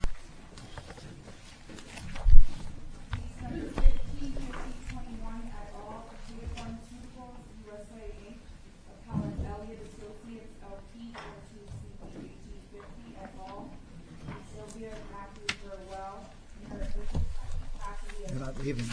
Takeda Pharmaceuticals U.S.A. v. Sylvia Burwell Takeda Pharmaceuticals U.S.A. v. Sylvia Burwell Takeda Pharmaceuticals U.S.A. v. Sylvia Burwell Takeda Pharmaceuticals U.S.A. v. Sylvia Burwell Takeda Pharmaceuticals U.S.A. v. Sylvia Burwell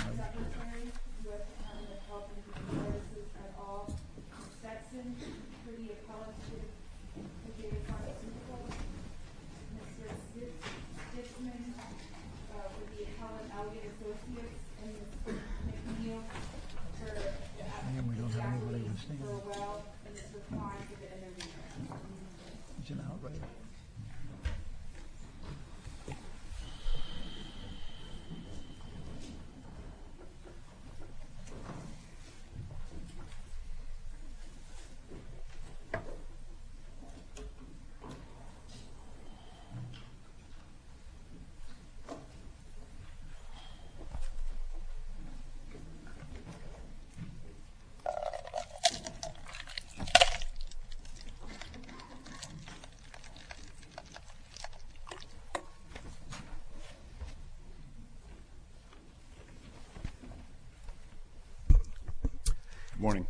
Good morning.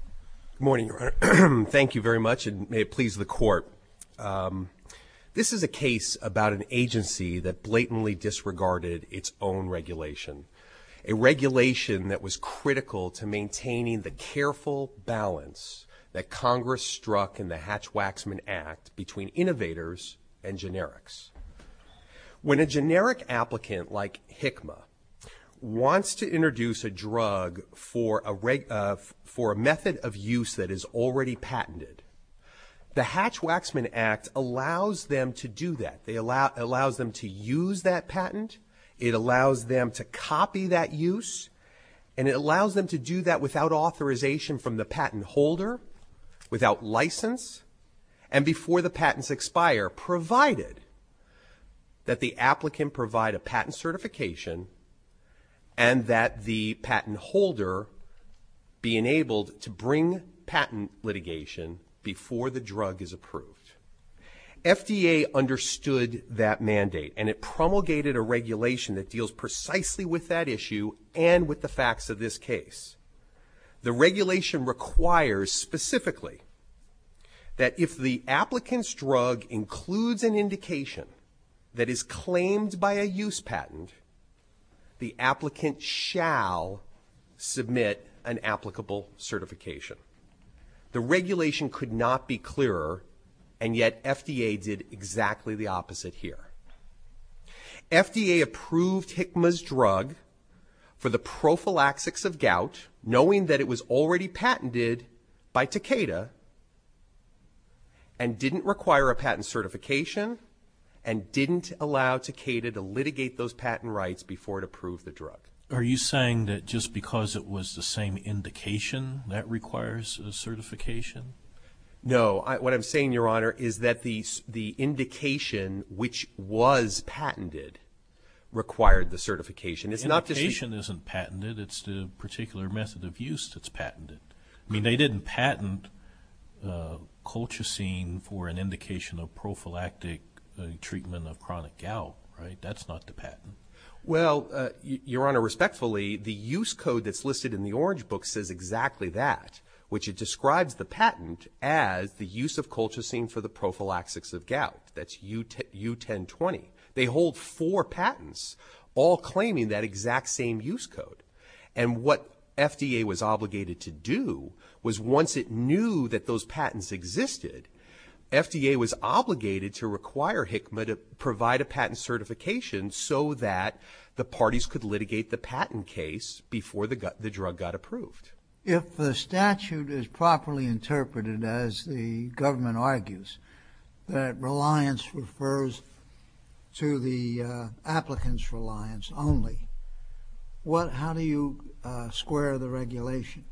Good morning. This is a case about an agency that blatantly disregarded its own regulation, a regulation that was critical to maintaining the careful balance that Congress struck in the Hatch-Waxman Act between innovators and generics. When a generic applicant, like HICMA, wants to introduce a drug for a method of use that is already patented, the Hatch-Waxman Act allows them to do that. It allows them to use that patent. It allows them to copy that use, and it allows them to do that without authorization from the patent holder, without license, and before the patents expire, provided that the applicant provide a patent certification and that the patent holder be enabled to bring patent litigation before the drug is approved. FDA understood that mandate, and it promulgated a regulation that deals precisely with that issue and with the facts of this case. The regulation requires, specifically, that if the applicant's drug includes an indication that is claimed by a use patent, the applicant shall submit an applicable certification. The regulation could not be clearer, and yet FDA did exactly the opposite here. FDA approved HICMA's drug for the prophylaxis of gout, knowing that it was already patented by Takeda, and didn't require a patent certification and didn't allow Takeda to litigate those patent rights before it approved the drug. Are you saying that just because it was the same indication that requires a certification? No. What I'm saying, Your Honor, is that the indication which was patented required the certification. The indication isn't patented. It's the particular method of use that's patented. I mean, they didn't patent colchicine for an indication of prophylactic treatment of chronic gout, right? That's not the patent. Well, Your Honor, respectfully, the use code that's listed in the orange book says exactly that, which it describes the patent as the use of colchicine for the prophylaxis of gout. That's U1020. They hold four patents, all claiming that exact same use code. And what FDA was obligated to do was once it knew that those patents existed, FDA was obligated to require HICMA to provide a patent certification so that the parties could litigate the patent case before the drug got approved. If the statute is properly interpreted, as the government argues, that reliance refers to the applicant's reliance only, how do you square the regulation?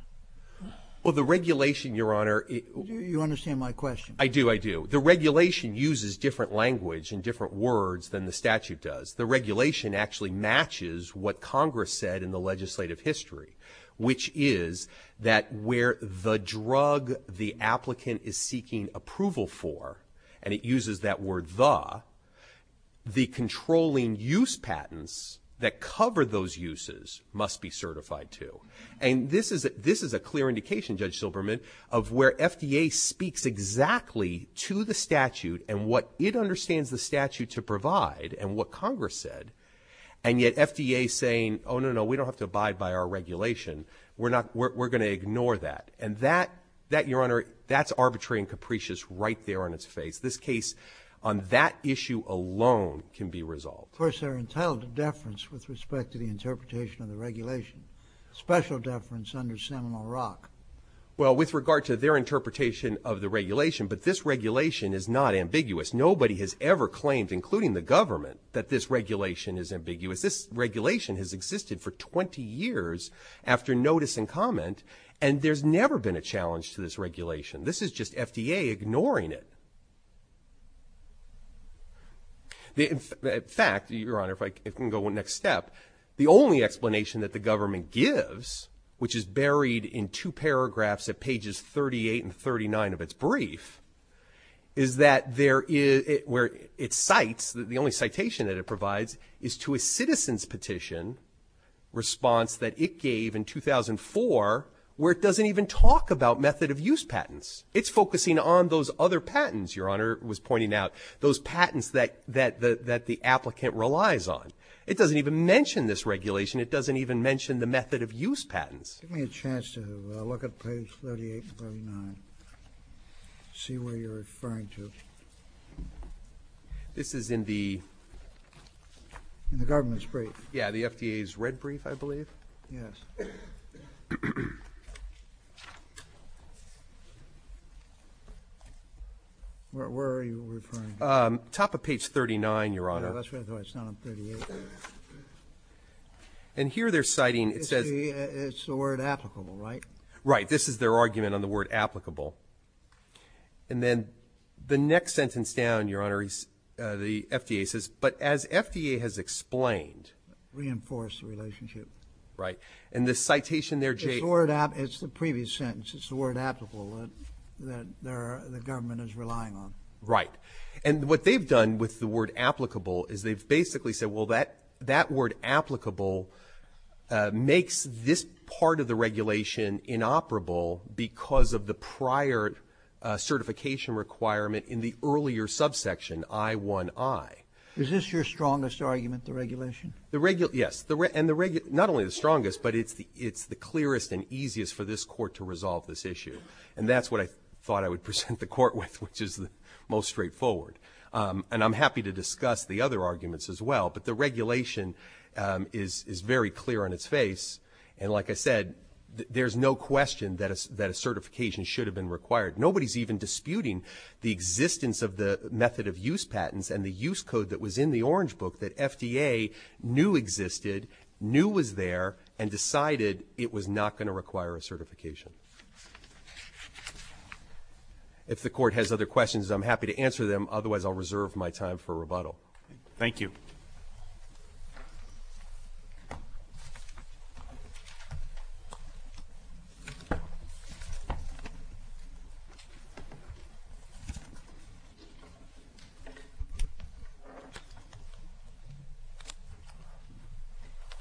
Well, the regulation, Your Honor... You understand my question. I do, I do. The regulation uses different language and different words than the statute does. The regulation actually matches what Congress said in the legislative history, which is that where the drug the applicant is seeking approval for, and it uses that word the, the controlling use patents that cover those uses must be certified to. And this is a clear indication, Judge Silberman, of where FDA speaks exactly to the statute and what it understands the statute to provide and what Congress said, and yet FDA is saying, oh, no, no, we don't have to abide by our regulation. We're going to ignore that. And that, Your Honor, that's arbitrary and capricious right there on its face. This case on that issue alone can be resolved. First, there are entitled to deference with respect to the interpretation of the regulation, special deference under Seminole Rock. Well, with regard to their interpretation of the regulation, but this regulation is not ambiguous. Nobody has ever claimed, including the government, that this regulation is ambiguous. This regulation has existed for 20 years after notice and comment, and there's never been a challenge to this regulation. This is just FDA ignoring it. In fact, Your Honor, if I can go one next step, the only explanation that the government gives, which is buried in two paragraphs at pages 38 and 39 of its brief, is that there is... where it cites, the only citation that it provides, is to a citizen's petition response that it gave in 2004 where it doesn't even talk about method-of-use patents. It's focusing on those other patents, Your Honor was pointing out, those patents that the applicant relies on. It doesn't even mention this regulation. It doesn't even mention the method-of-use patents. Give me a chance to look at page 38 and 39, see where you're referring to. This is in the... In the government's brief. Yeah, the FDA's red brief, I believe. Where are you referring to? Top of page 39, Your Honor. And here they're citing... It's the word applicable, right? Right. This is their argument on the word applicable. And then the next sentence down, Your Honor, the FDA says, but as FDA has explained... Reinforce the relationship. Right. And the citation there... It's the previous sentence. It's the word applicable that the government is relying on. Right. And what they've done with the word applicable is they've basically said, well, that word applicable makes this part of the regulation inoperable because of the prior certification requirement in the earlier subsection, I1I. Is this your strongest argument, the regulation? Yes. And not only the strongest, but it's the clearest and easiest for this court to resolve this issue. And that's what I thought I would present the court with, which is the most straightforward. And I'm happy to discuss the other arguments as well, but the regulation is very clear on its face. And like I said, there's no question that a certification should have been required. Nobody's even disputing the existence of the method of use patents and the use code that was in the Orange Book that FDA knew existed, knew was there, and decided it was not going to require a certification. If the court has other questions, I'm happy to answer them. Otherwise, I'll reserve my time for rebuttal. Thank you.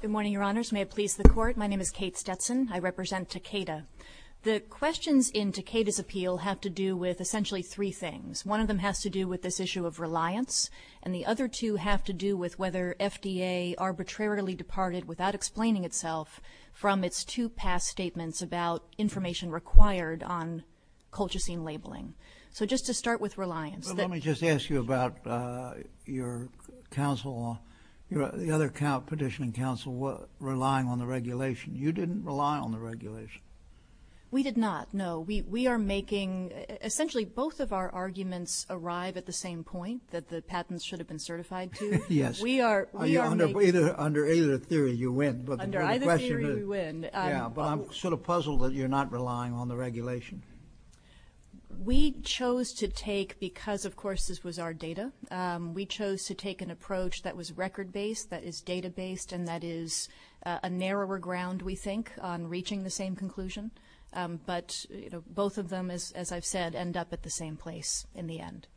Good morning, Your Honors. May it please the Court. My name is Kate Stepson. I represent Takeda. The questions in Takeda's appeal have to do with essentially three things. One of them has to do with this issue of reliance, and the other two have to do with whether FDA arbitrarily departed without explaining itself from its two past statements about information required on colchicine labeling. So just to start with reliance. Let me just ask you about your counsel, the other petitioning counsel relying on the regulation. You didn't rely on the regulation. We did not, no. We are making essentially both of our arguments arrive at the same point, that the patents should have been certified to. Yes. Under either theory you win. Under either theory we win. Yeah, but I'm sort of puzzled that you're not relying on the regulation. We chose to take, because, of course, this was our data, we chose to take an approach that was record-based, that is data-based, and that is a narrower ground, we think, on reaching the same conclusion. But both of them, as I've said, end up at the same place in the end.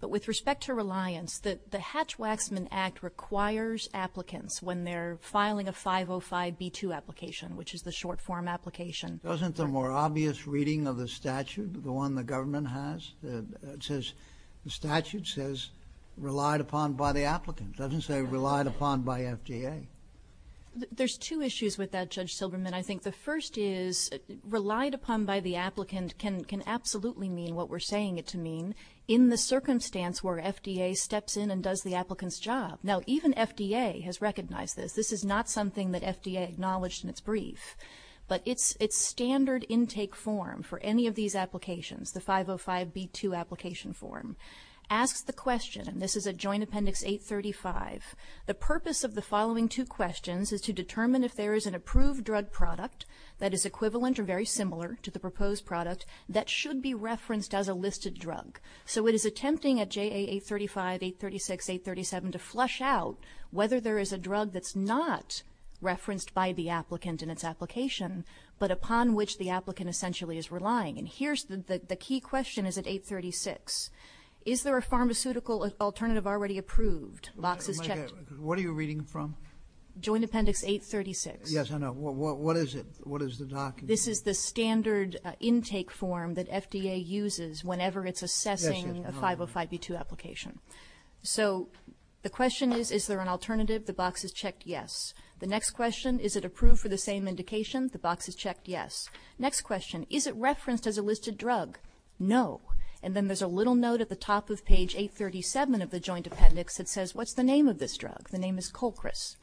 But with respect to reliance, the Hatch-Waxman Act requires applicants when they're filing a 505B2 application, which is the short-form application. Wasn't the more obvious reading of the statute, the one the government has, it says the statute says relied upon by the applicant. It doesn't say relied upon by FDA. There's two issues with that, Judge Silverman, I think. The first is relied upon by the applicant can absolutely mean what we're saying it to mean in the circumstance where FDA steps in and does the applicant's job. Now, even FDA has recognized this. This is not something that FDA acknowledged in its brief, but its standard intake form for any of these applications, the 505B2 application form, asks the question, this is at Joint Appendix 835, the purpose of the following two questions is to determine if there is an approved drug product that is equivalent or very similar to the proposed product that should be referenced as a listed drug. So it is attempting at JA 835, 836, 837, to flush out whether there is a drug that's not referenced by the applicant in its application but upon which the applicant essentially is relying. And the key question is at 836. Is there a pharmaceutical alternative already approved? What are you reading from? Joint Appendix 836. Yes, I know. What is it? What is the document? This is the standard intake form that FDA uses whenever it's assessing a 505B2 application. So the question is, is there an alternative? The box is checked yes. The next question, is it approved for the same indication? The box is checked yes. Next question, is it referenced as a listed drug? No. And then there's a little note at the top of page 837 of the Joint Appendix that says, what's the name of this drug? The name is Colchris.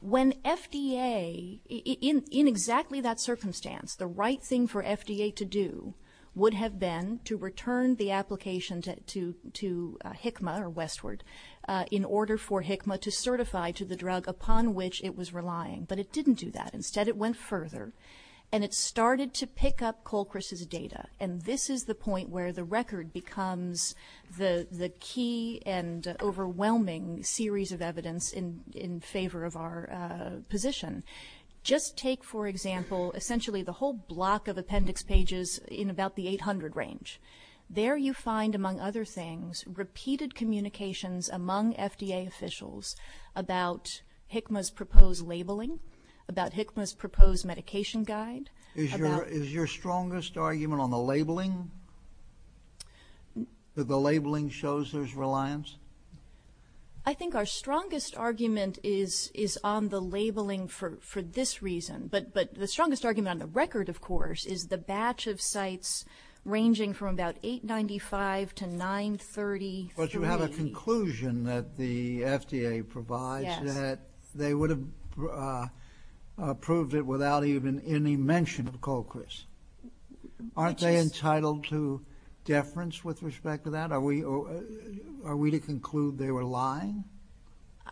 When FDA, in exactly that circumstance, the right thing for FDA to do would have been to return the application to HICMA or Westward in order for HICMA to certify to the drug upon which it was relying. But it didn't do that. Instead, it went further, and it started to pick up Colchris' data. And this is the point where the record becomes the key and overwhelming series of evidence in favor of our position. Just take, for example, essentially the whole block of appendix pages in about the 800 range. There you find, among other things, repeated communications among FDA officials about HICMA's proposed labeling, about HICMA's proposed medication guide. Is your strongest argument on the labeling, that the labeling shows there's reliance? I think our strongest argument is on the labeling for this reason. But the strongest argument on the record, of course, is the batch of sites ranging from about 895 to 930. But you have a conclusion that the FDA provides that they would have approved it without even any mention of Colchris. Aren't they entitled to deference with respect to that? Are we to conclude they were lying?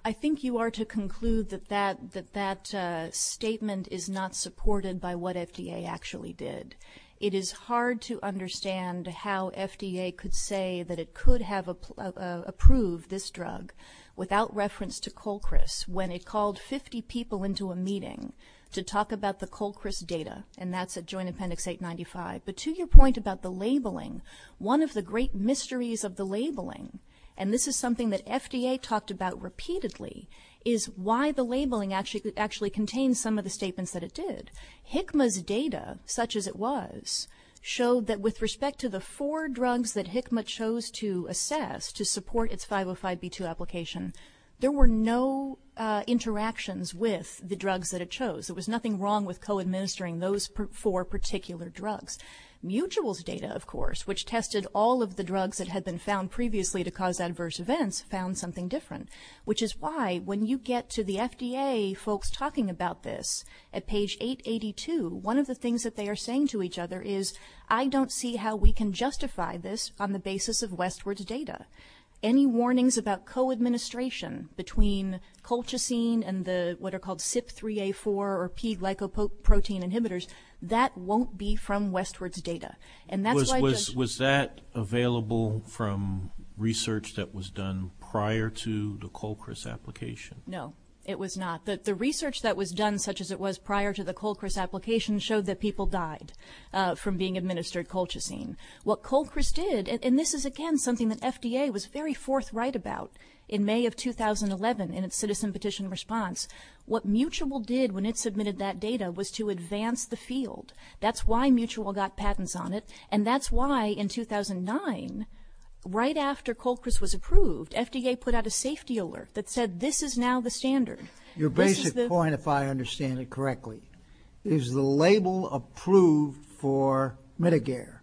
I think you are to conclude that that statement is not supported by what FDA actually did. It is hard to understand how FDA could say that it could have approved this drug without reference to Colchris when it called 50 people into a meeting to talk about the Colchris data, and that's at Joint Appendix 895. But to your point about the labeling, one of the great mysteries of the labeling, and this is something that FDA talked about repeatedly, is why the labeling actually contains some of the statements that it did. HICMA's data, such as it was, showed that with respect to the four drugs that HICMA chose to assess to support its 505B2 application, there were no interactions with the drugs that it chose. There was nothing wrong with co-administering those four particular drugs. Mutual's data, of course, which tested all of the drugs that had been found previously to cause adverse events, found something different, which is why when you get to the FDA folks talking about this at page 882, one of the things that they are saying to each other is, I don't see how we can justify this on the basis of Westward's data. Any warnings about co-administration between colchicine and the what are called CYP3A4 or P-glycoprotein inhibitors, that won't be from Westward's data. And that's why just... Was that available from research that was done prior to the Colchris application? No, it was not. The research that was done, such as it was prior to the Colchris application, showed that people died from being administered colchicine. What Colchris did, and this is, again, something that FDA was very forthright about in May of 2011 in its citizen petition response, what Mutual did when it submitted that data was to advance the field. That's why Mutual got patents on it, and that's why in 2009, right after Colchris was approved, FDA put out a safety alert that said this is now the standard. Your basic point, if I understand it correctly, is the label approved for Mitogair,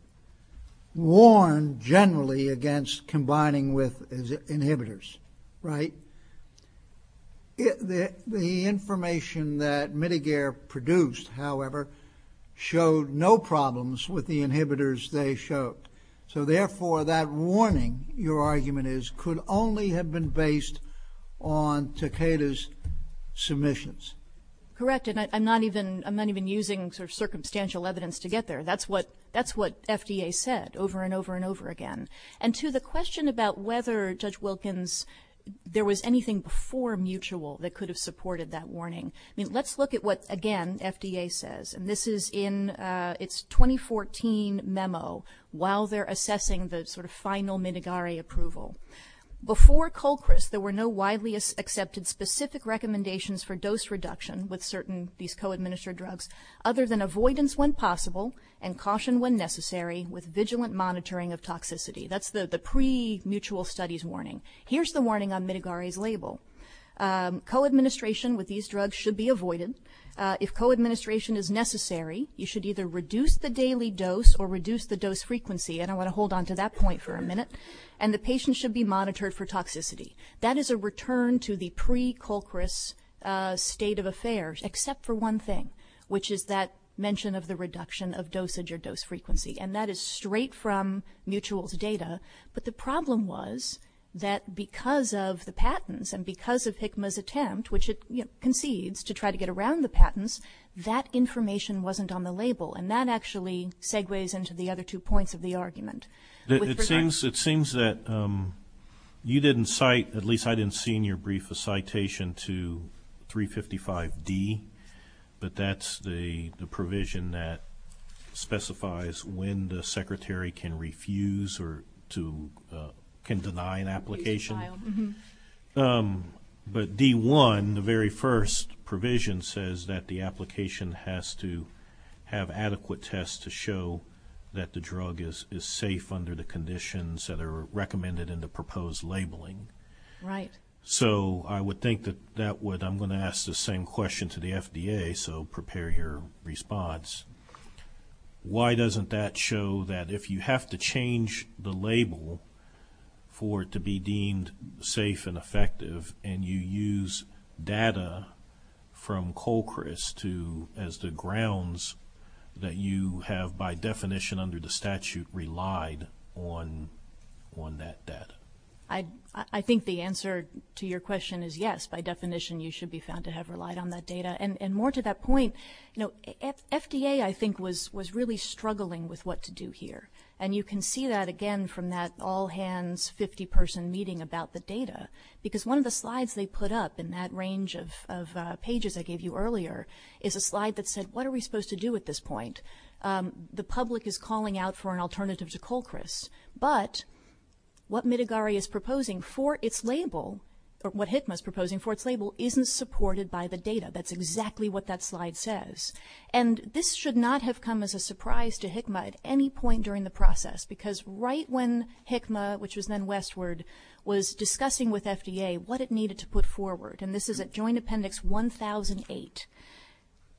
warned generally against combining with inhibitors, right? The information that Mitogair produced, however, showed no problems with the inhibitors they showed. So, therefore, that warning, your argument is, could only have been based on Takeda's submissions. Correct, and I'm not even using sort of circumstantial evidence to get there. That's what FDA said over and over and over again. And to the question about whether, Judge Wilkins, there was anything before Mutual that could have supported that warning, I mean, let's look at what, again, FDA says, and this is in its 2014 memo while they're assessing the sort of final Mitogair approval. Before Colchris, there were no widely accepted specific recommendations for dose reduction with certain, these co-administered drugs, other than avoidance when possible and caution when necessary with vigilant monitoring of toxicity. That's the pre-Mutual studies warning. Here's the warning on Mitogair's label. Co-administration with these drugs should be avoided. If co-administration is necessary, you should either reduce the daily dose or reduce the dose frequency, and I want to hold on to that point for a minute, and the patient should be monitored for toxicity. That is a return to the pre-Colchris state of affairs except for one thing, which is that mention of the reduction of dosage or dose frequency, and that is straight from Mutual's data. But the problem was that because of the patents and because of HCMA's attempt, which it concedes to try to get around the patents, that information wasn't on the label, and that actually segues into the other two points of the argument. It seems that you didn't cite, at least I didn't see in your brief, a citation to 355D, but that's the provision that specifies when the secretary can refuse or can deny an application. But D1, the very first provision, says that the application has to have adequate tests to show that the drug is safe under the conditions that are recommended in the proposed labeling. Right. So I would think that I'm going to ask the same question to the FDA, so prepare your response. Why doesn't that show that if you have to change the label for it to be deemed safe and effective and you use data from Colchris as the grounds that you have, by definition under the statute, relied on that data? I think the answer to your question is yes, by definition you should be found to have relied on that data. And more to that point, FDA, I think, was really struggling with what to do here. And you can see that, again, from that all-hands, 50-person meeting about the data, because one of the slides they put up in that range of pages I gave you earlier is a slide that said, what are we supposed to do at this point? The public is calling out for an alternative to Colchris. But what Mitigari is proposing for its label, or what HICMA is proposing for its label, isn't supported by the data. That's exactly what that slide says. And this should not have come as a surprise to HICMA at any point during the process, because right when HICMA, which was then Westward, was discussing with FDA what it needed to put forward, and this is at Joint Appendix 1008,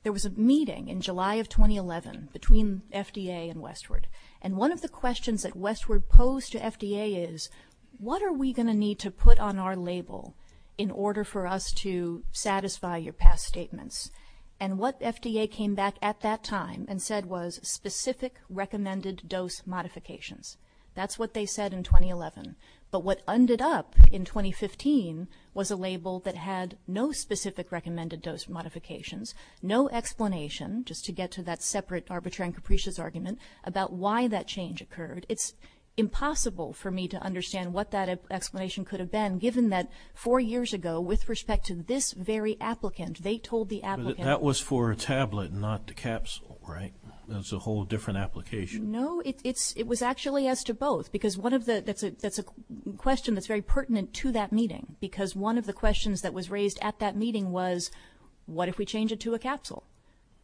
there was a meeting in July of 2011 between FDA and Westward. And one of the questions that Westward posed to FDA is, what are we going to need to put on our label in order for us to satisfy your past statements? And what FDA came back at that time and said was, specific recommended dose modifications. That's what they said in 2011. But what ended up in 2015 was a label that had no specific recommended dose modifications, no explanation, just to get to that separate arbitrary and capricious argument, about why that change occurred. It's impossible for me to understand what that explanation could have been, given that four years ago, with respect to this very applicant, they told the applicant. But that was for a tablet, not the capsule, right? That's a whole different application. No, it was actually as to both. That's a question that's very pertinent to that meeting, because one of the questions that was raised at that meeting was, what if we change it to a capsule?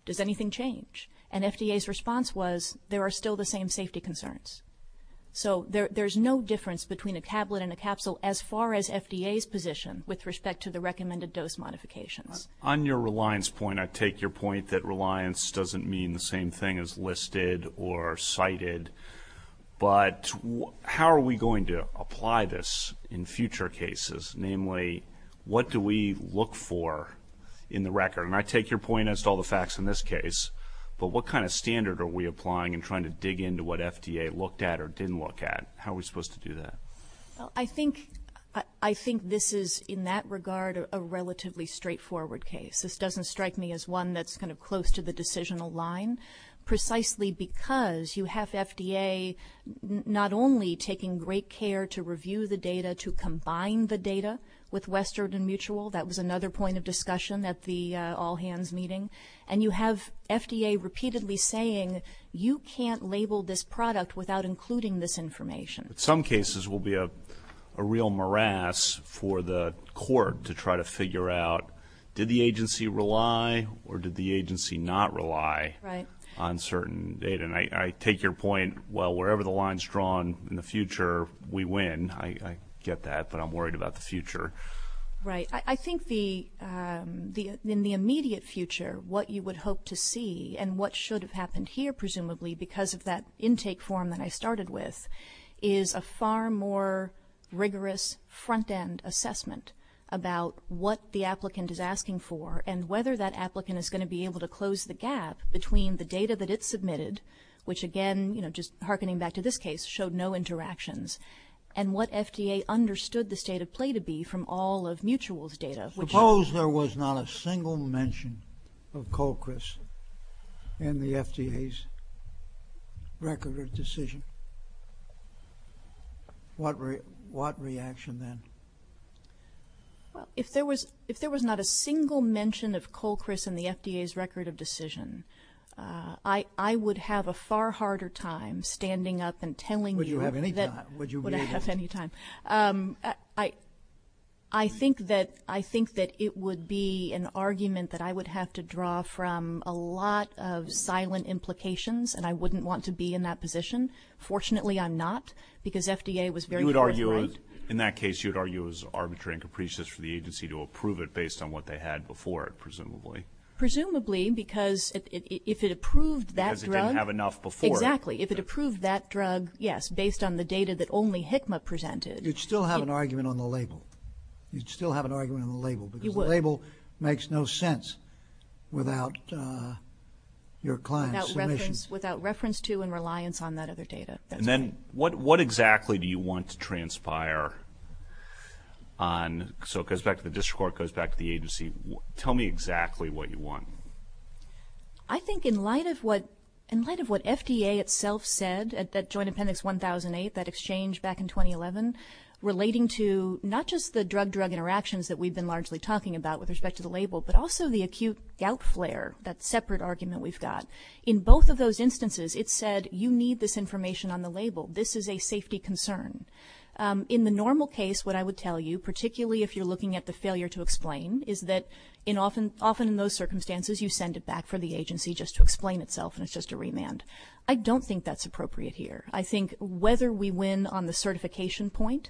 Does anything change? And FDA's response was, there are still the same safety concerns. So there's no difference between a tablet and a capsule, as far as FDA's position with respect to the recommended dose modification. On your reliance point, I take your point that reliance doesn't mean the same thing as listed or cited. But how are we going to apply this in future cases? Namely, what do we look for in the record? And I take your point as to all the facts in this case. But what kind of standard are we applying and trying to dig into what FDA looked at or didn't look at? How are we supposed to do that? I think this is, in that regard, a relatively straightforward case. This doesn't strike me as one that's kind of close to the decisional line. And that's precisely because you have FDA not only taking great care to review the data, to combine the data with Western Mutual, that was another point of discussion at the all-hands meeting, and you have FDA repeatedly saying, you can't label this product without including this information. Some cases will be a real morass for the court to try to figure out, did the agency rely or did the agency not rely on certain data? And I take your point, well, wherever the line's drawn in the future, we win. I get that, but I'm worried about the future. Right. I think in the immediate future what you would hope to see and what should have happened here, presumably, because of that intake form that I started with, is a far more rigorous front-end assessment about what the applicant is asking for and whether that applicant is going to be able to close the gap between the data that it submitted, which again, just hearkening back to this case, showed no interactions, and what FDA understood the state of play to be from all of Mutual's data. Suppose there was not a single mention of Colchris in the FDA's record of decision. What reaction then? If there was not a single mention of Colchris in the FDA's record of decision, I would have a far harder time standing up and telling you. Would you have any time? Would I have any time? I think that it would be an argument that I would have to draw from a lot of silent implications, and I wouldn't want to be in that position. Fortunately, I'm not, because FDA was very clear. In that case, you would argue it was arbitrary and capricious for the agency to approve it based on what they had before it, presumably. Presumably, because if it approved that drug. Because it didn't have enough before it. Exactly. If it approved that drug, yes, based on the data that only HCMA presented. You'd still have an argument on the label. You'd still have an argument on the label. You would. Because the label makes no sense without your client's permission. Without reference to and reliance on that other data. And then what exactly do you want to transpire on? So it goes back to the district court, goes back to the agency. Tell me exactly what you want. I think in light of what FDA itself said at Joint Appendix 1008, that exchange back in 2011, relating to not just the drug-drug interactions that we've been largely talking about with respect to the label, but also the acute gout flare, that separate argument we've got. In both of those instances, it said, you need this information on the label. This is a safety concern. In the normal case, what I would tell you, particularly if you're looking at the failure to explain, is that often in those circumstances you send it back for the agency just to explain itself and it's just a remand. I don't think that's appropriate here. I think whether we win on the certification point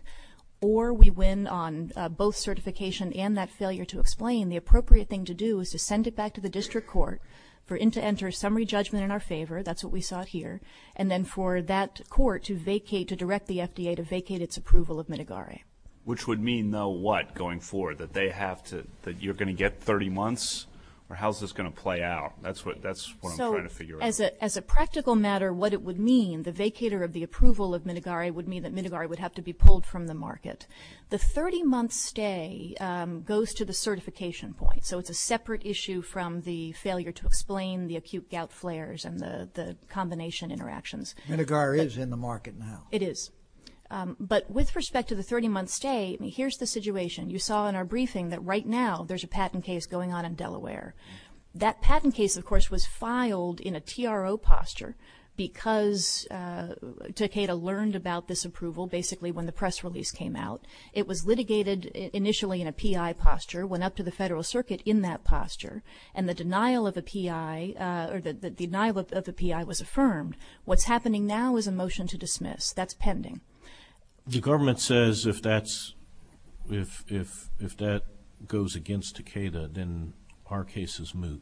or we win on both certification and that failure to explain, the appropriate thing to do is to send it back to the district court for them to enter a summary judgment in our favor. That's what we saw here. And then for that court to vacate, to direct the FDA to vacate its approval of Minigari. Which would mean, though, what going forward? That you're going to get 30 months? Or how is this going to play out? That's what I'm trying to figure out. As a practical matter, what it would mean, the vacater of the approval of Minigari would mean that Minigari would have to be pulled from the market. The 30-month stay goes to the certification point. So it's a separate issue from the failure to explain the acute gout flares and the combination interactions. Minigari is in the market now. It is. But with respect to the 30-month stay, here's the situation. You saw in our briefing that right now there's a patent case going on in Delaware. That patent case, of course, was filed in a PRO posture because Takeda learned about this approval basically when the press release came out. It was litigated initially in a PI posture, went up to the Federal Circuit in that posture, and the denial of the PI was affirmed. What's happening now is a motion to dismiss. That's pending. The government says if that goes against Takeda, then our case is moved.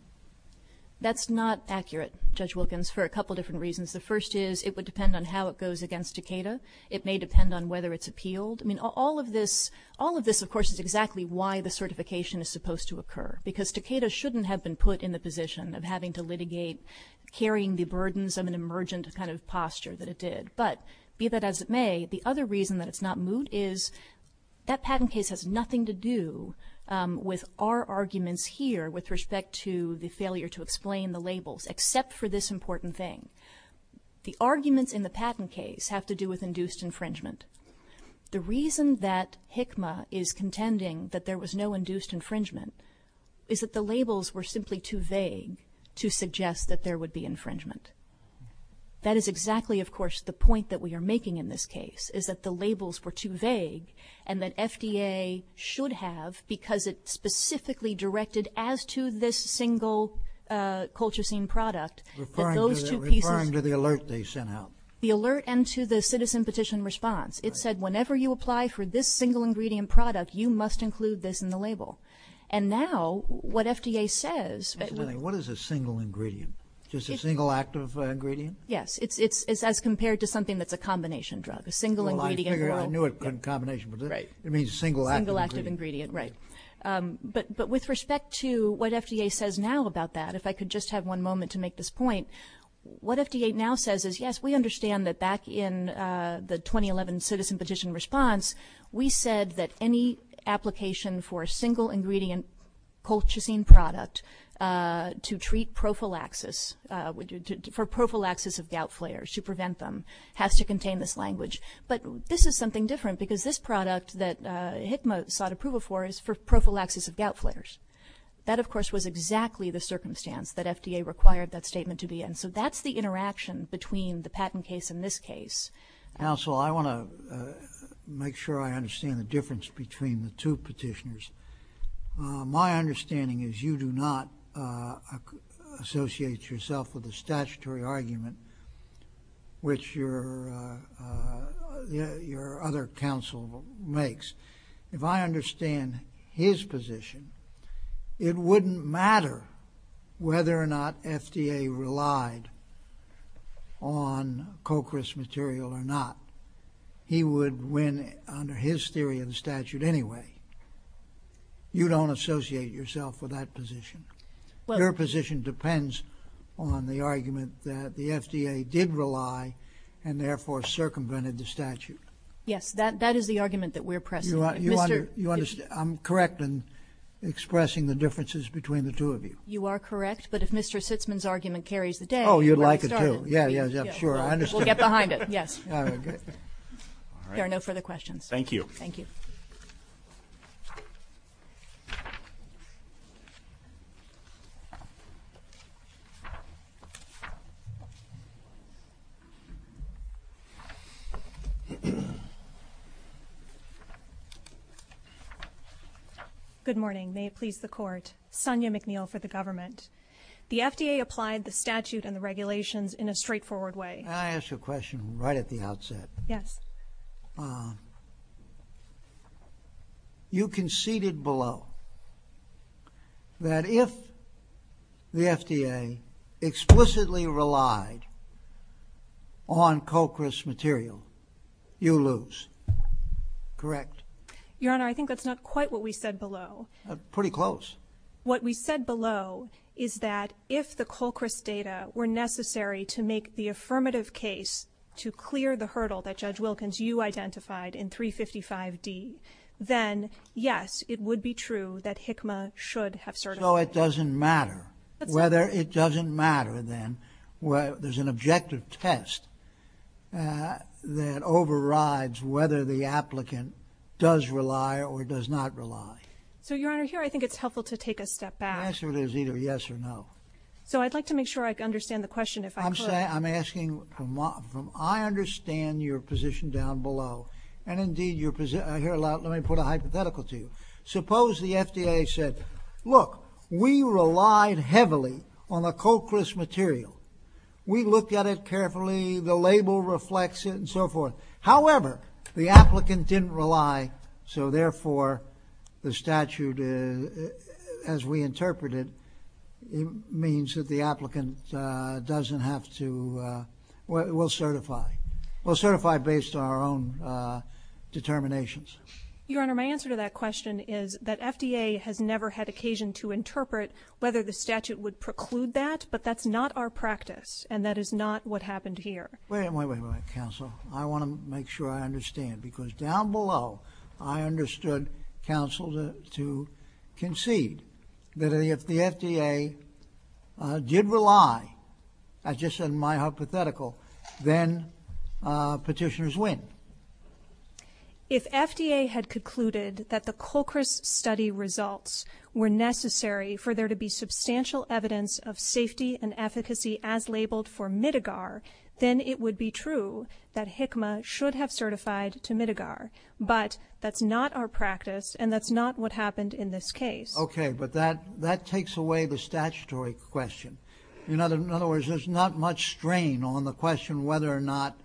That's not accurate, Judge Wilkins, for a couple different reasons. The first is it would depend on how it goes against Takeda. It may depend on whether it's appealed. I mean, all of this, of course, is exactly why the certification is supposed to occur because Takeda shouldn't have been put in the position of having to litigate carrying the burdens of an emergent kind of posture that it did. But be that as it may, the other reason that it's not moved is that patent case has nothing to do with our arguments here with respect to the failure to explain the labels except for this important thing. The arguments in the patent case have to do with induced infringement. The reason that HCMA is contending that there was no induced infringement is that the labels were simply too vague to suggest that there would be infringement. That is exactly, of course, the point that we are making in this case, is that the labels were too vague and that FDA should have, because it's specifically directed as to this single Colchicine product. Referring to the alert they sent out. The alert and to the citizen petition response. It said whenever you apply for this single ingredient product, you must include this in the label. And now what FDA says. What is a single ingredient? Just a single active ingredient? Yes. It's as compared to something that's a combination drug. A single ingredient. I knew it could be a combination. It means a single active ingredient. Right. But with respect to what FDA says now about that, if I could just have one moment to make this point, what FDA now says is, yes, we understand that back in the 2011 citizen petition response, we said that any application for a single ingredient Colchicine product to treat prophylaxis, for prophylaxis of gout flares, to prevent them, has to contain this language. But this is something different, because this product that HICMA sought approval for is for prophylaxis of gout flares. That, of course, was exactly the circumstance that FDA required that statement to be in. So that's the interaction between the patent case and this case. Counsel, I want to make sure I understand the difference between the two petitioners. My understanding is you do not associate yourself with a statutory argument, which your other counsel makes. If I understand his position, it wouldn't matter whether or not FDA relied on Cochris material or not. He would win under his theory of the statute anyway. You don't associate yourself with that position. Their position depends on the argument that the FDA did rely and therefore circumvented the statute. Yes, that is the argument that we're pressing. I'm correct in expressing the differences between the two of you. You are correct. But if Mr. Sitzman's argument carries the day. Oh, you'd like it to. Yeah, yeah, sure. We'll get behind it. Yes. There are no further questions. Thank you. Thank you. Good morning. May it please the Court. Sonya McNeil for the government. The FDA applied the statute and the regulations in a straightforward way. Can I ask you a question right at the outset? Yes. You conceded below that if the FDA explicitly relied on Cochris material, you lose. Correct? Your Honor, I think that's not quite what we said below. Pretty close. What we said below is that if the Cochris data were necessary to make the affirmative case to clear the hurdle that Judge Wilkins, you identified in 355D, then yes, it would be true that HCMA should have certified it. So it doesn't matter whether it doesn't matter then. There's an objective test that overrides whether the applicant does rely or does not rely. So, Your Honor, here I think it's helpful to take a step back. The answer is either yes or no. So I'd like to make sure I understand the question if I could. I'm asking from I understand your position down below. And, indeed, I hear a lot. Let me put a hypothetical to you. Suppose the FDA said, look, we relied heavily on the Cochris material. We looked at it carefully. The label reflects it and so forth. However, the applicant didn't rely. So, therefore, the statute, as we interpret it, means that the applicant doesn't have to. We'll certify. We'll certify based on our own determinations. Your Honor, my answer to that question is that FDA has never had occasion to interpret whether the statute would preclude that, but that's not our practice and that is not what happened here. Wait, wait, wait, counsel. I want to make sure I understand because down below I understood, counsel, to concede that if the FDA did rely, as just in my hypothetical, then petitioners win. If FDA had concluded that the Cochris study results were necessary for there to be substantial evidence of safety and efficacy as labeled for Midigar, then it would be true that HICMA should have certified to Midigar. But that's not our practice and that's not what happened in this case. Okay, but that takes away the statutory question. In other words, there's not much strain on the question of whether or not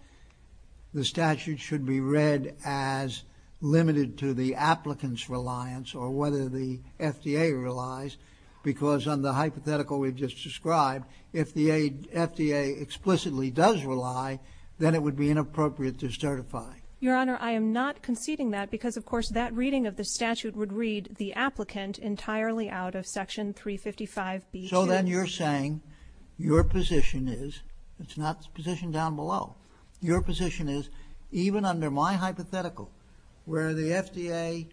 the statute should be read as limited to the applicant's reliance or whether the FDA relies because on the hypothetical we've just described, if the FDA explicitly does rely, then it would be inappropriate to certify. Your Honor, I am not conceding that because, of course, that reading of the statute would read the applicant entirely out of Section 355B2. So then you're saying your position is, it's not the position down below, your position is, even under my hypothetical, where the FDA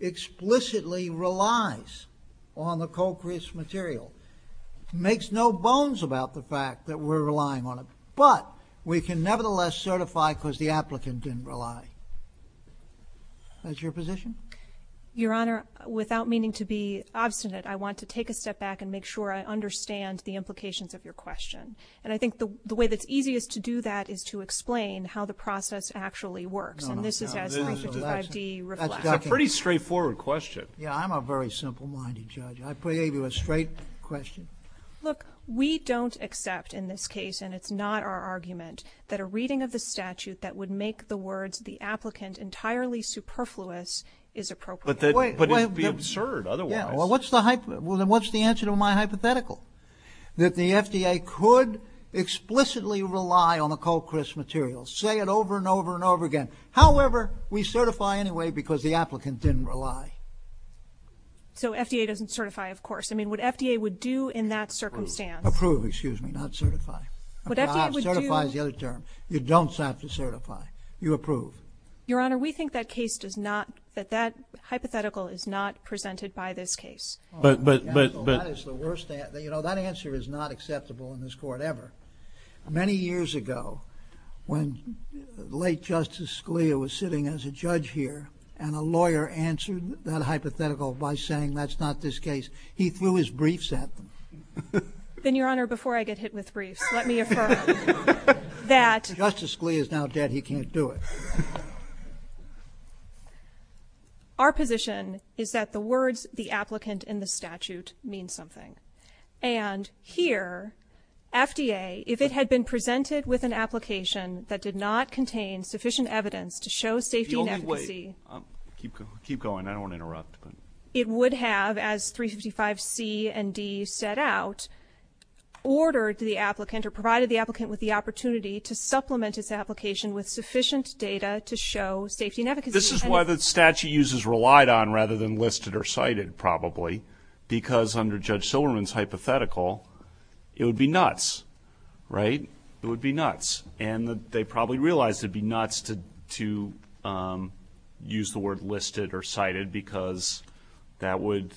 explicitly relies on the Cochris material, makes no bones about the fact that we're relying on it, but we can nevertheless certify because the applicant didn't rely. That's your position? Your Honor, without meaning to be obstinate, I want to take a step back and make sure I understand the implications of your question. And I think the way that's easiest to do that is to explain how the process actually works. And this is as much of the reflection. That's a pretty straightforward question. Yeah, I'm a very simple-minded judge. I gave you a straight question. Look, we don't accept in this case, and it's not our argument, that a reading of the statute that would make the words the applicant entirely superfluous is appropriate. But it would be absurd otherwise. Yeah, well, then what's the answer to my hypothetical? That the FDA could explicitly rely on the Cochris material, say it over and over and over again. However, we certify anyway because the applicant didn't rely. So FDA doesn't certify, of course. I mean, what FDA would do in that circumstance... Approve, excuse me, not certify. Certify is the other term. You don't have to certify. You approve. Your Honor, we think that case does not... that hypothetical is not presented by this case. That is the worst answer. You know, that answer is not acceptable in this court ever. Many years ago, when late Justice Scalia was sitting as a judge here and a lawyer answered that hypothetical by saying that's not this case, he threw his briefs at them. Then, Your Honor, before I get hit with briefs, let me affirm that... Justice Scalia is now dead. He can't do it. Our position is that the words the applicant in the statute mean something. And here, FDA, if it had been presented with an application that did not contain sufficient evidence to show safety and efficacy... The only way... Keep going. I don't want to interrupt. It would have, as 365C and D set out, ordered the applicant or provided the applicant with the opportunity to supplement its application with sufficient data to show safety and efficacy. This is why the statute uses relied on rather than listed or cited, probably, because under Judge Silberman's hypothetical, it would be nuts, right? It would be nuts. And they probably realized it would be nuts to use the word listed or cited because that would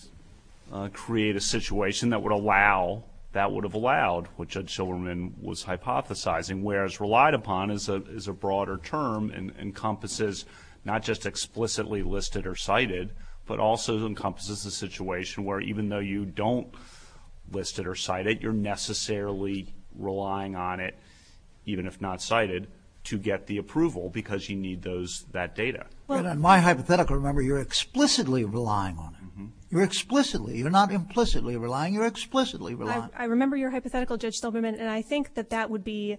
create a situation that would allow... that would have allowed what Judge Silberman was hypothesizing, whereas relied upon is a broader term and encompasses not just explicitly listed or cited, but also encompasses the situation where even though you don't list it or cite it, you're necessarily relying on it, even if not cited, to get the approval because you need that data. In my hypothetical, remember, you're explicitly relying on it. You're explicitly. You're not implicitly relying. You're explicitly relying. I remember your hypothetical, Judge Silberman, and I think that that would be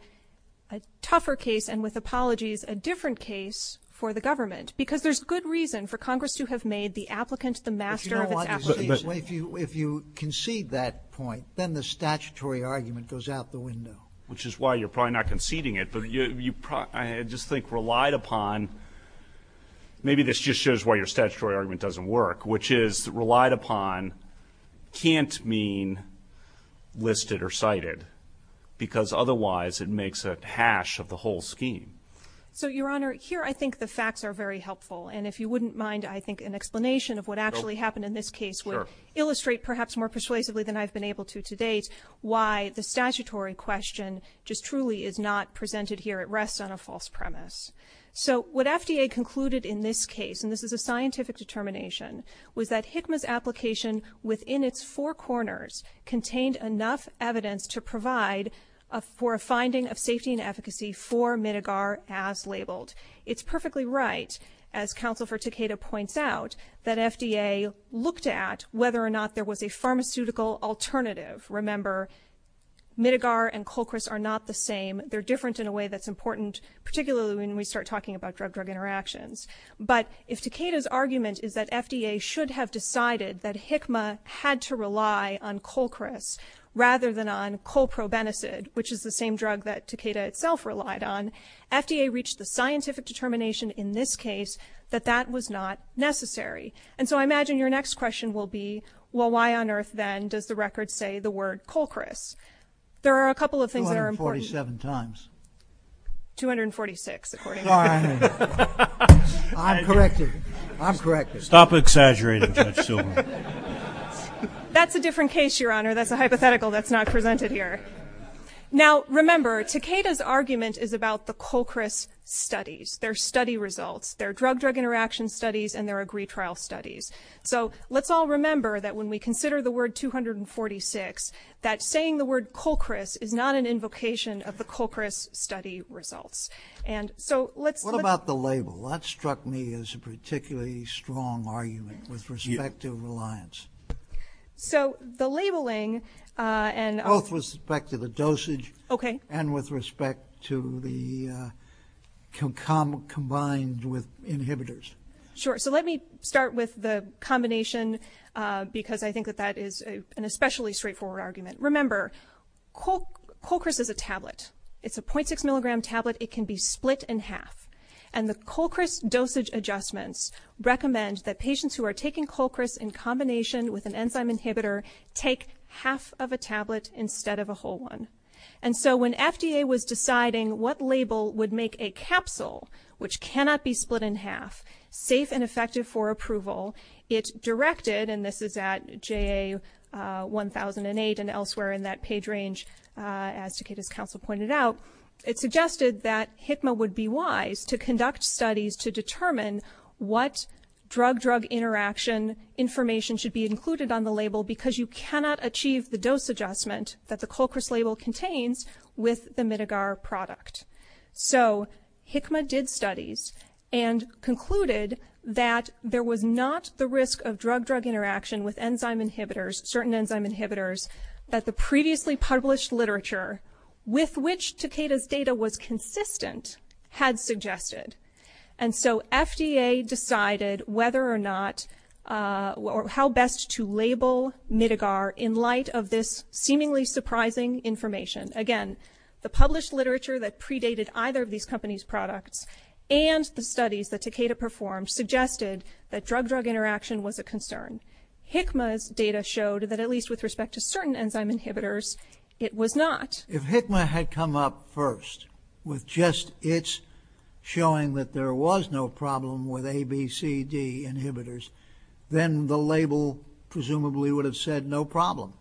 a tougher case and, with apologies, a different case for the government because there's good reason for Congress to have made the applicant the master of its application. If you concede that point, then the statutory argument goes out the window. Which is why you're probably not conceding it. I just think relied upon, maybe this just shows why your statutory argument doesn't work, which is relied upon can't mean listed or cited because otherwise it makes a hash of the whole scheme. Your Honor, here I think the facts are very helpful, and if you wouldn't mind, I think, an explanation of what actually happened in this case would illustrate perhaps more persuasively than I've been able to to date why the statutory question just truly is not presented here at rest on a false premise. So what FDA concluded in this case, and this is a scientific determination, was that HICMA's application within its four corners contained enough evidence to provide for a finding of safety and efficacy for Midigar as labeled. It's perfectly right, as Counsel for Takeda points out, that FDA looked at whether or not there was a pharmaceutical alternative. Remember, Midigar and Colchris are not the same. They're different in a way that's important, particularly when we start talking about drug-drug interactions. But if Takeda's argument is that FDA should have decided that HICMA had to rely on Colchris rather than on colprobenicid, which is the same drug that Takeda itself relied on, FDA reached the scientific determination in this case that that was not necessary. And so I imagine your next question will be, well, why on earth then does the record say the word Colchris? There are a couple of things that are important. 246, according to Takeda. I'm corrected. I'm corrected. Stop exaggerating so soon. That's a different case, Your Honor. That's a hypothetical that's not presented here. Now, remember, Takeda's argument is about the Colchris studies, their study results, their drug-drug interaction studies, and their agreed trial studies. So let's all remember that when we consider the word 246, that saying the word Colchris is not an invocation of the Colchris study results. And so let's... What about the label? That struck me as a particularly strong argument with respect to reliance. So the labeling and... Both with respect to the dosage... Okay. ...and with respect to the combined with inhibitors. Sure. So let me start with the combination because I think that that is an especially straightforward argument. Remember, Colchris is a tablet. It's a 0.6-milligram tablet. It can be split in half. And the Colchris dosage adjustments recommend that patients who are taking Colchris in combination with an enzyme inhibitor take half of a tablet instead of a whole one. And so when FDA was deciding what label would make a capsule, which cannot be split in half, safe and effective for approval, it directed, and this is at JA 1008 and elsewhere in that page range, as Takeda's capsule pointed out, it suggested that HICMA would be wise to conduct studies to determine what drug-drug interaction information should be included on the label because you cannot achieve the dose adjustment that the Colchris label contains with the Midgar product. So HICMA did studies and concluded that there was not the risk of drug-drug interaction with enzyme inhibitors, certain enzyme inhibitors, that the previously published literature with which Takeda's data was consistent had suggested. And so FDA decided whether or not... or how best to label Midgar in light of this seemingly surprising information. Again, the published literature that predated either of these companies' products and the studies that Takeda performed suggested that drug-drug interaction was a concern. HICMA's data showed that at least with respect to certain enzyme inhibitors, it was not. If HICMA had come up first with just its showing that there was no problem with A, B, C, D inhibitors, then the label presumably would have said no problem.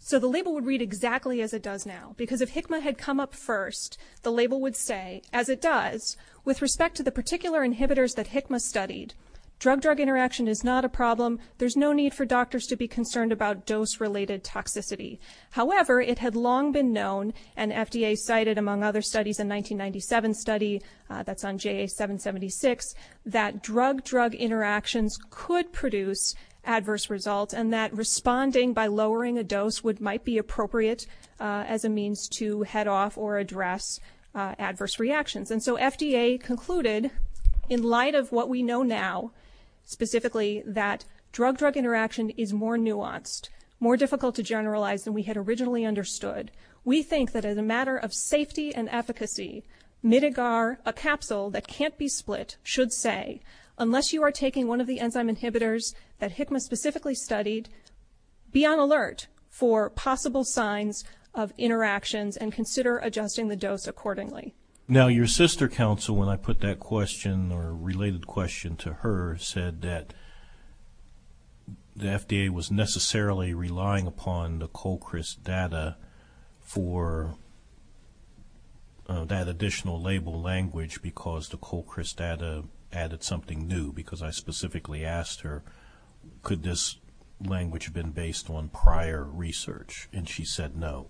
So the label would read exactly as it does now because if HICMA had come up first, the label would say, as it does, with respect to the particular inhibitors that HICMA studied, drug-drug interaction is not a problem. There's no need for doctors to be concerned about dose-related toxicity. However, it had long been known, and FDA cited among other studies, a 1997 study that's on JA776, that drug-drug interactions could produce adverse results and that responding by lowering a dose might be appropriate as a means to head off or address adverse reactions. And so FDA concluded, in light of what we know now, specifically that drug-drug interaction is more nuanced, more difficult to generalize than we had originally understood, we think that as a matter of safety and efficacy, mitigar, a capsule that can't be split, should say, unless you are taking one of the enzyme inhibitors that HICMA specifically studied, be on alert for possible signs of interactions and consider adjusting the dose accordingly. Now, your sister counsel, when I put that question, or related question to her, said that the FDA was necessarily relying upon the Colchris data for that additional label language because the Colchris data added something new, because I specifically asked her, could this language have been based on prior research? And she said no.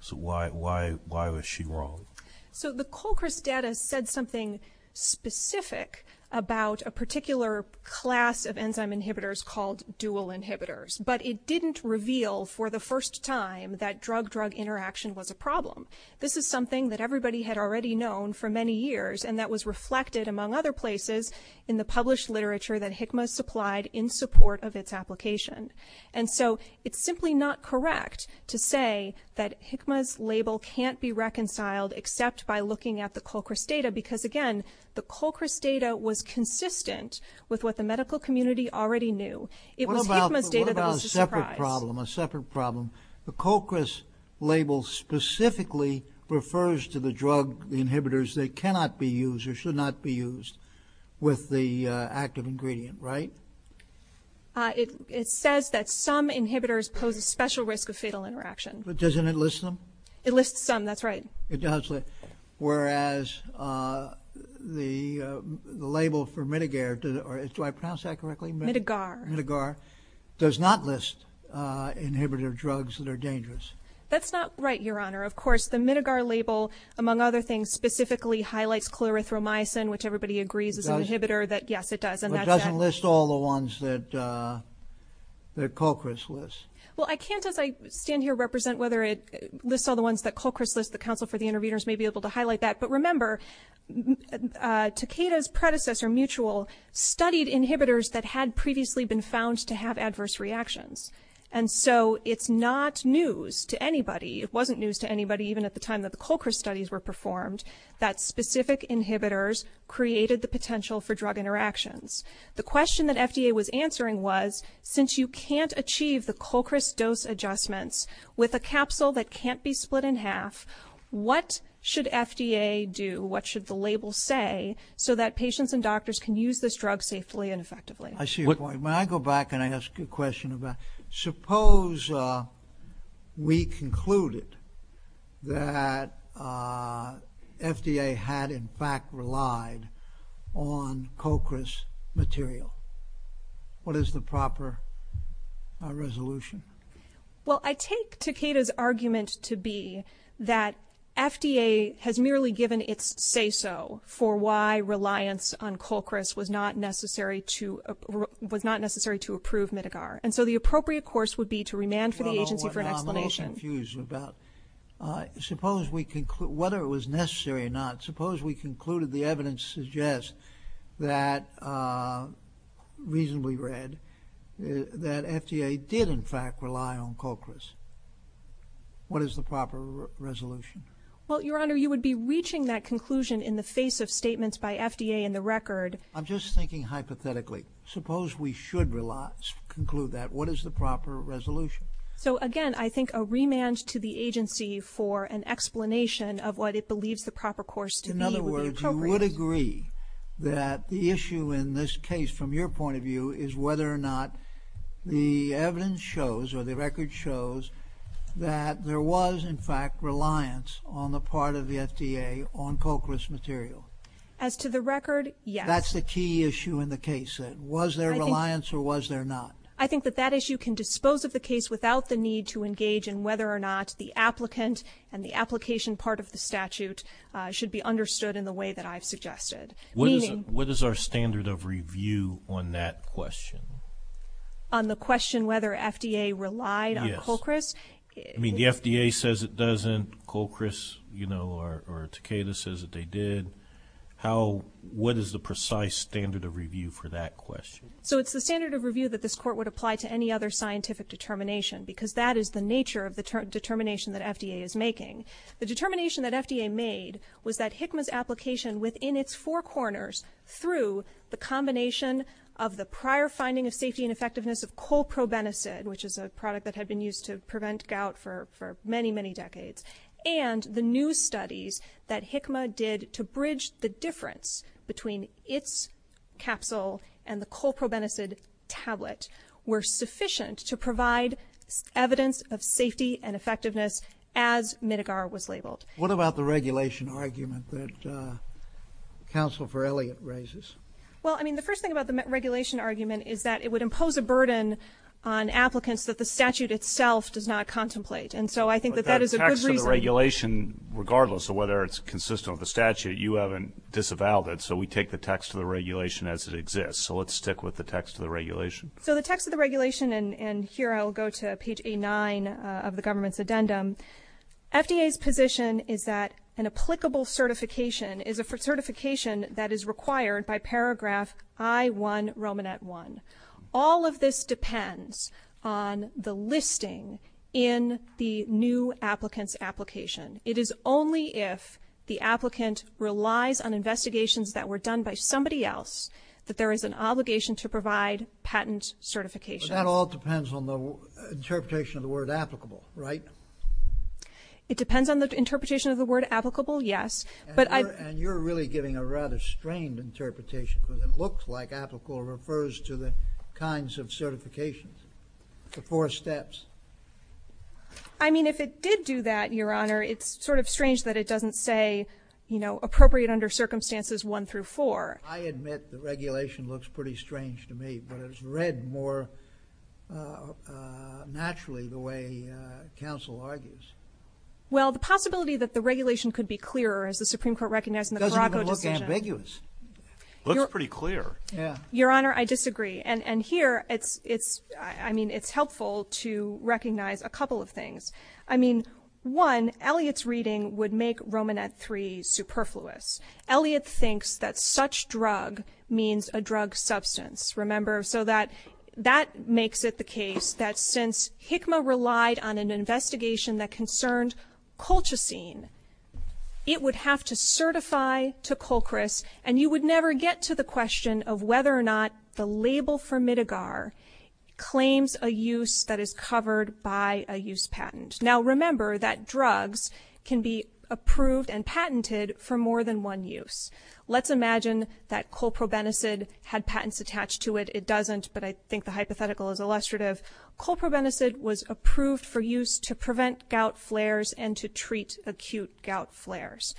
So why was she wrong? So the Colchris data said something specific about a particular class of enzyme inhibitors called dual inhibitors, but it didn't reveal for the first time that drug-drug interaction was a problem. This is something that everybody had already known for many years, and that was reflected, among other places, in the published literature that HICMA supplied in support of its application. And so it's simply not correct to say that HICMA's label can't be reconciled except by looking at the Colchris data because, again, the Colchris data was consistent with what the medical community already knew. What about a separate problem, a separate problem? The Colchris label specifically refers to the drug inhibitors that cannot be used or should not be used with the active ingredient, right? It says that some inhibitors pose a special risk of fatal interaction. But doesn't it list them? It lists some, that's right. It does. Whereas the label for Midegar, do I pronounce that correctly? Midegar. Midegar does not list inhibitor drugs that are dangerous. That's not right, Your Honor. Of course, the Midegar label, among other things, specifically highlights clorithromycin, which everybody agrees is an inhibitor. It does? Yes, it does. It doesn't list all the ones that Colchris lists. Well, I can't, as I stand here, represent whether it lists all the ones that Colchris lists. The Council for the Intervenors may be able to highlight that. But remember, Takeda's predecessor, Mutual, studied inhibitors that had previously been found to have adverse reactions. And so it's not news to anybody, it wasn't news to anybody even at the time that the Colchris studies were performed, that specific inhibitors created the potential for drug interactions. The question that FDA was answering was, since you can't achieve the Colchris dose adjustments with a capsule that can't be split in half, what should FDA do? What should the label say so that patients and doctors can use this drug safely and effectively? I see your point. When I go back and I ask you a question, suppose we concluded that FDA had in fact relied on Colchris material. What is the proper resolution? Well, I take Takeda's argument to be that FDA has merely given its say-so for why reliance on Colchris was not necessary to approve Mitigar. And so the appropriate course would be to remand for the agency for an explanation. I'm a little confused about whether it was necessary or not. Suppose we concluded the evidence suggests that reasonably read, that FDA did in fact rely on Colchris. What is the proper resolution? Well, Your Honor, you would be reaching that conclusion in the face of statements by FDA in the record. I'm just thinking hypothetically. Suppose we should conclude that. What is the proper resolution? So again, I think a remand to the agency for an explanation of what it believes the proper course to be would be appropriate. In other words, you would agree that the issue in this case from your point of view is whether or not the evidence shows or the record shows that there was in fact reliance on the part of the FDA on Colchris material. As to the record, yes. That's the key issue in the case. Was there reliance or was there not? I think that that issue can dispose of the case without the need to engage in whether or not the applicant and the application part of the statute should be understood in the way that I've suggested. What is our standard of review on that question? On the question whether FDA relied on Colchris? I mean, the FDA says it doesn't. Colchris, you know, or Takeda says that they did. What is the precise standard of review for that question? So it's the standard of review that this court would apply to any other scientific determination because that is the nature of the determination that FDA is making. The determination that FDA made was that HICMA's application within its four corners through the combination of the prior finding of safety and effectiveness of colprobenicid, which is a product that had been used to prevent gout for many, many decades, and the new studies that HICMA did to bridge the difference between its capsule and the colprobenicid tablet were sufficient to provide evidence of safety and effectiveness as Midgar was labeled. What about the regulation argument that Counsel for Elliott raises? Well, I mean, the first thing about the regulation argument is that it would impose a burden on applicants that the statute itself does not contemplate, and so I think that that is a good reason. But the text of the regulation, regardless of whether it's consistent with the statute, you haven't disavowed it, so we take the text of the regulation as it exists. So let's stick with the text of the regulation. So the text of the regulation, and here I'll go to page A9 of the government's addendum, FDA's position is that an applicable certification is a certification that is required by paragraph I1, Romanet 1. All of this depends on the listing in the new applicant's application. It is only if the applicant relies on investigations that were done by somebody else that there is an obligation to provide patent certification. But that all depends on the interpretation of the word applicable, right? It depends on the interpretation of the word applicable, yes. And you're really giving a rather strained interpretation because it looks like applicable refers to the kinds of certifications, the four steps. I mean, if it did do that, Your Honor, it's sort of strange that it doesn't say, you know, appropriate under circumstances 1 through 4. I admit the regulation looks pretty strange to me, but it's read more naturally the way counsel argues. Well, the possibility that the regulation could be clearer as the Supreme Court recognized in the Caraco decision... Your Honor, I disagree. And here, I mean, it's helpful to recognize a couple of things. I mean, one, Elliot's reading would make Romanet 3 superfluous. Elliot thinks that such drug means a drug substance, remember? So that makes it the case that since HICMA relied on an investigation that concerned colchicine, it would have to certify to Colchris, and you would never get to the question of whether or not the label for Midgar claims a use that is covered by a use patent. Now, remember that drugs can be approved and patented for more than one use. Let's imagine that colprobenicid had patents attached to it. It doesn't, but I think the hypothetical is illustrative. Colprobenicid was approved for use to prevent gout flares and to treat acute gout flares.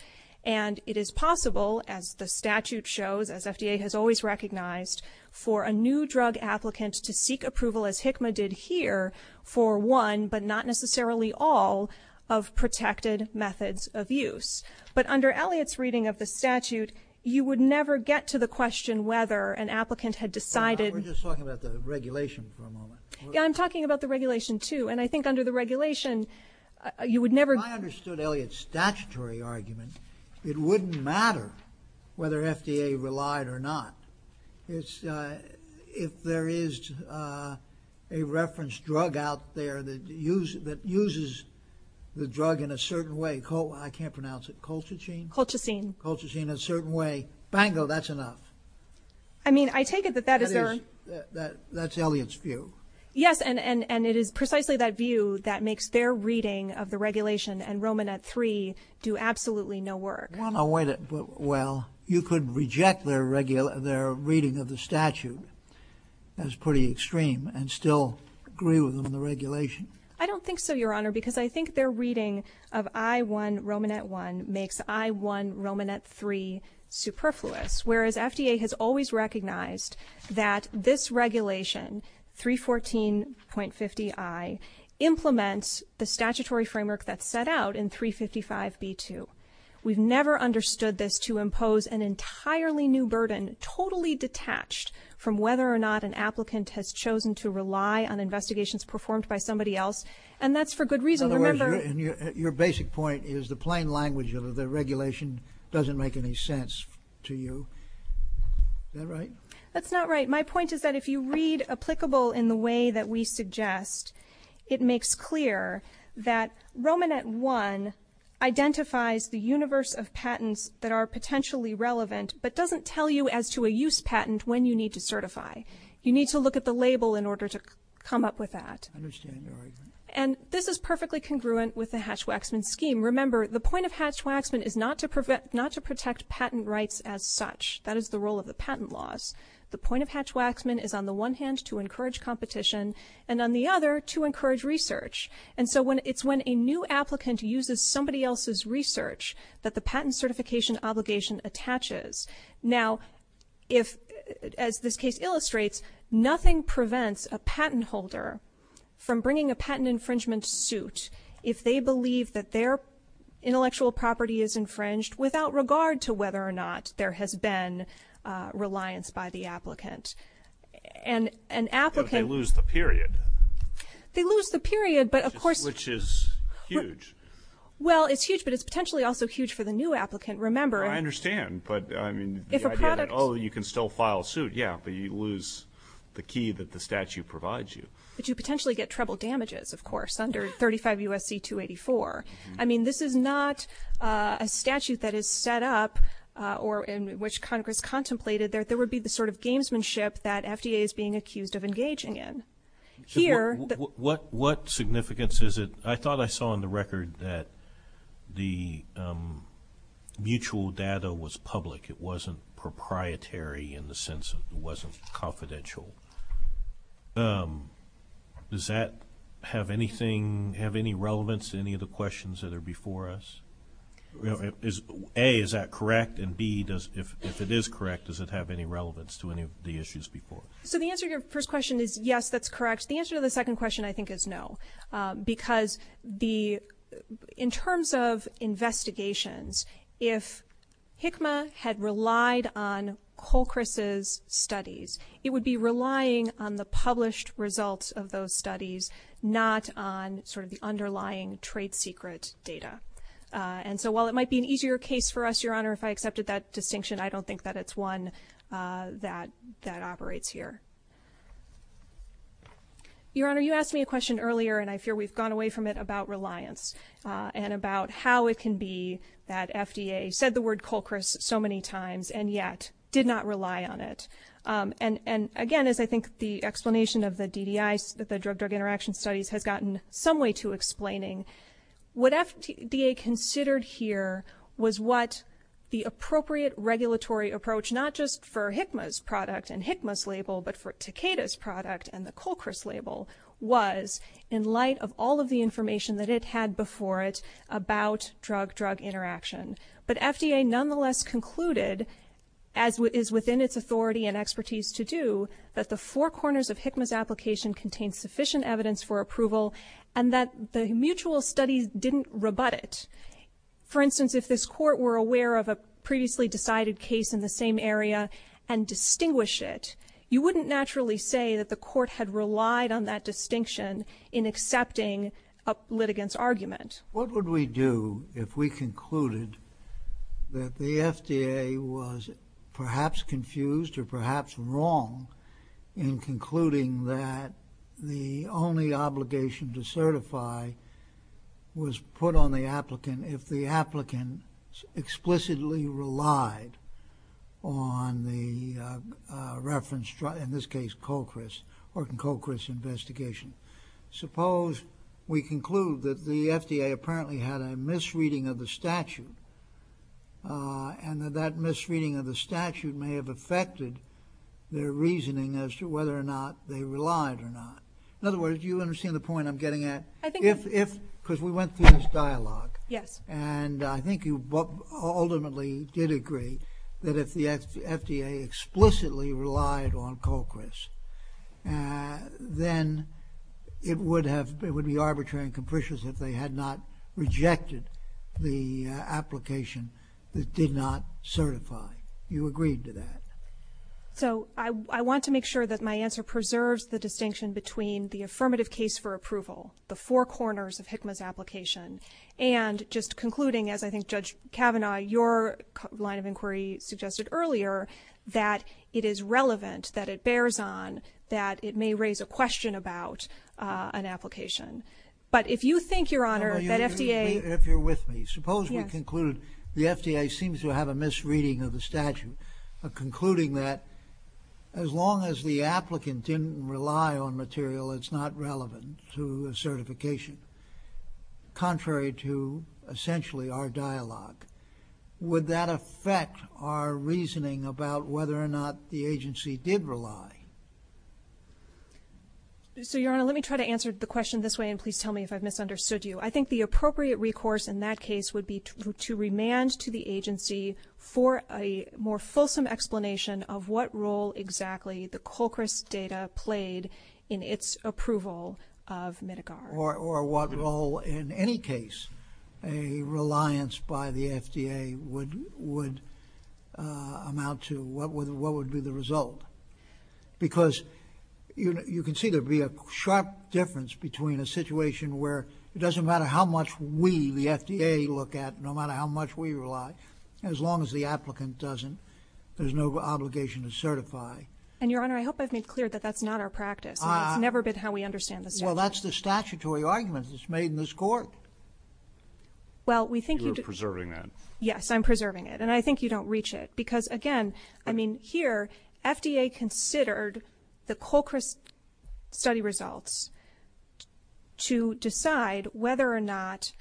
And it is possible, as the statute shows, as FDA has always recognized, for a new drug applicant to seek approval, as HICMA did here, for one, but not necessarily all, of protected methods of use. But under Elliot's reading of the statute, you would never get to the question whether an applicant had decided... We're just talking about the regulation for a moment. Yeah, I'm talking about the regulation, too. And I think under the regulation, you would never... If I understood Elliot's statutory argument, it wouldn't matter whether FDA relied or not. If there is a reference drug out there that uses the drug in a certain way... I can't pronounce it. Colchicine? Colchicine. Colchicine, a certain way. Bango, that's enough. I mean, I take it that that is... That's Elliot's view. Yes, and it is precisely that view that makes their reading of the regulation and Romanet-3 do absolutely no work. Well, you could reject their reading of the statute. That's pretty extreme, and still agree with them on the regulation. I don't think so, Your Honor, because I think their reading of I1-Romanet-1 makes I1-Romanet-3 superfluous, whereas FDA has always recognized that this regulation, 314.50i, implements the statutory framework that's set out in 355b-2. We've never understood this to impose an entirely new burden, totally detached from whether or not an applicant has chosen to rely on investigations performed by somebody else, and that's for good reason. Your basic point is the plain language of the regulation doesn't make any sense to you. Is that right? That's not right. My point is that if you read applicable in the way that we suggest, it makes clear that Romanet-1 identifies the universe of patents that are potentially relevant but doesn't tell you as to a use patent when you need to certify. You need to look at the label in order to come up with that. I understand your argument. And this is perfectly congruent with the Hatch-Waxman scheme. Remember, the point of Hatch-Waxman is not to protect patent rights as such. That is the role of the patent laws. The point of Hatch-Waxman is on the one hand to encourage competition and on the other to encourage research. And so it's when a new applicant uses somebody else's research that the patent certification obligation attaches. Now, as this case illustrates, nothing prevents a patent holder from bringing a patent infringement suit if they believe that their intellectual property is infringed without regard to whether or not there has been reliance by the applicant. And an applicant... But they lose the period. They lose the period, but of course... Which is huge. Well, it's huge, but it's potentially also huge for the new applicant. Remember... I understand, but, I mean, the idea that, oh, you can still file a suit, yeah, but you lose the key that the statute provides you. But you potentially get treble damages, of course, under 35 U.S.C. 284. I mean, this is not a statute that is set up or in which Congress contemplated. There would be the sort of gamesmanship that FDA is being accused of engaging in. Here... What significance is it... I thought I saw on the record that the mutual data was public. It wasn't proprietary in the sense it wasn't confidential. Does that have anything... Does that answer any of the questions that are before us? A, is that correct? And B, if it is correct, does it have any relevance to any of the issues before? So the answer to your first question is yes, that's correct. The answer to the second question, I think, is no. Because the... In terms of investigations, if HCMA had relied on Colchris's studies, it would be relying on the published results of those studies, not on sort of the underlying trade secret data. And so while it might be an easier case for us, Your Honor, if I accepted that distinction, I don't think that it's one that operates here. Your Honor, you asked me a question earlier, and I fear we've gone away from it, about reliance and about how it can be that FDA said the word Colchris so many times and yet did not rely on it. And again, as I think the explanation of the DDI, the Drug-Drug Interaction Studies, has gotten some way to explaining, what FDA considered here was what the appropriate regulatory approach, not just for HCMA's product and HCMA's label, but for Takeda's product and the Colchris label, was in light of all of the information that it had before it about drug-drug interaction. But FDA nonetheless concluded, as is within its authority and expertise to do, that the four corners of HCMA's application contained sufficient evidence for approval and that the mutual studies didn't rebut it. For instance, if this court were aware of a previously decided case in the same area and distinguished it, you wouldn't naturally say that the court had relied on that distinction in accepting a litigant's argument. What would we do if we concluded that the FDA was perhaps confused or perhaps wrong in concluding that the only obligation to certify was put on the applicant if the applicant explicitly relied on the reference, in this case, Colchris, or the Colchris investigation? Suppose we conclude that the FDA apparently had a misreading of the statute and that that misreading of the statute may have affected their reasoning as to whether or not they relied or not. In other words, do you understand the point I'm getting at? Because we went through this dialogue. And I think you ultimately did agree that if the FDA explicitly relied on Colchris, then it would be arbitrary and capricious if they had not rejected the application that did not certify. You agreed to that. So I want to make sure that my answer preserves the distinction between the affirmative case for approval, the four corners of Hickman's application, and just concluding, as I think Judge Kavanaugh, your line of inquiry suggested earlier, that it is relevant, that it bears on, that it may raise a question about an application. But if you think, Your Honor, that FDA... If you're with me. Suppose we conclude the FDA seems to have a misreading of the statute, concluding that as long as the applicant didn't rely on material, it's not relevant to certification, contrary to, essentially, our dialogue. Would that affect our reasoning about whether or not the agency did rely? So, Your Honor, let me try to answer the question this way and please tell me if I've misunderstood you. I think the appropriate recourse in that case would be to remand to the agency for a more fulsome explanation of what role exactly the COCRIS data played in its approval of MEDICAR. Or what role, in any case, a reliance by the FDA would amount to. What would be the result? Because you can see there'd be a sharp difference between a situation where it doesn't matter how much we, the FDA, look at, no matter how much we rely, as long as the applicant doesn't, there's no obligation to certify. And, Your Honor, I hope I've made clear that that's not our practice. It's never been how we understand the statute. Well, that's the statutory argument that's made in this court. Well, we think you... You're preserving that. Yes, I'm preserving it. And I think you don't reach it. Because, again, I mean, here, FDA considered the COCRIS study results to decide whether or not,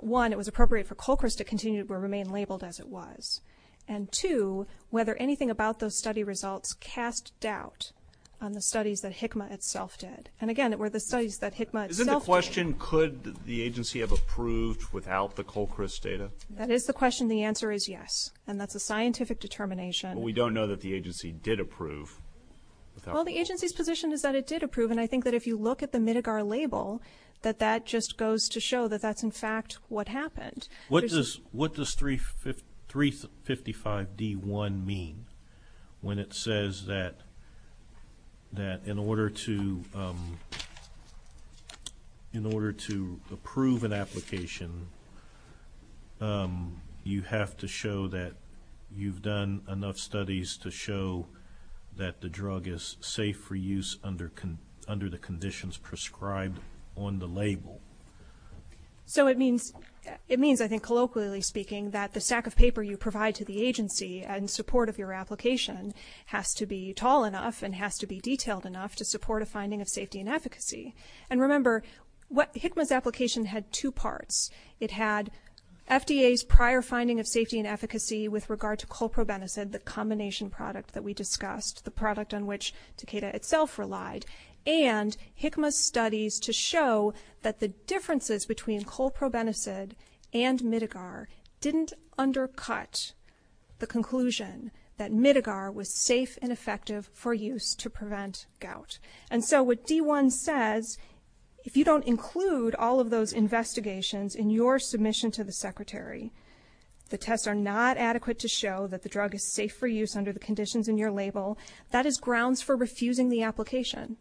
one, it was appropriate for COCRIS to continue to remain labeled as it was, and, two, whether anything about those study results cast doubt on the studies that HICMA itself did. And, again, it were the studies that HICMA itself did. Isn't the question, could the agency have approved without the COCRIS data? That is the question. The answer is yes. And that's a scientific determination. But we don't know that the agency did approve. Well, the agency's position is that it did approve, and I think that if you look at the Midgar label, that that just goes to show that that's, in fact, what happened. What does 355D1 mean when it says that in order to approve an application, you have to show that you've done enough studies to show that the drug is safe for use under the conditions prescribed on the label? So it means, I think, colloquially speaking, that the stack of paper you provide to the agency in support of your application has to be tall enough and has to be detailed enough to support a finding of safety and efficacy. And, remember, HICMA's application had two parts. It had FDA's prior finding of safety and efficacy with regard to colprobenicid, the combination product that we discussed, the product on which Takeda itself relied, and HICMA's studies to show that the differences between colprobenicid and Midgar didn't undercut the conclusion that Midgar was safe and effective for use to prevent gout. And so what D1 says, if you don't include all of those investigations in your submission to the secretary, the tests are not adequate to show that the drug is safe for use under the conditions in your label. That is grounds for refusing the application.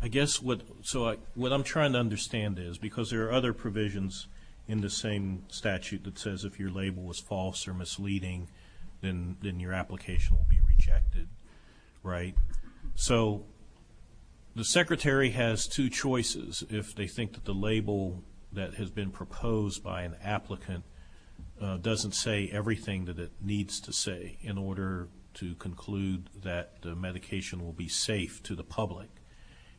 I guess what I'm trying to understand is, because there are other provisions in the same statute that says if your label is false or misleading, then your application will be rejected, right? So the secretary has two choices. If they think that the label that has been proposed by an applicant doesn't say everything that it needs to say in order to conclude that the medication will be safe to the public,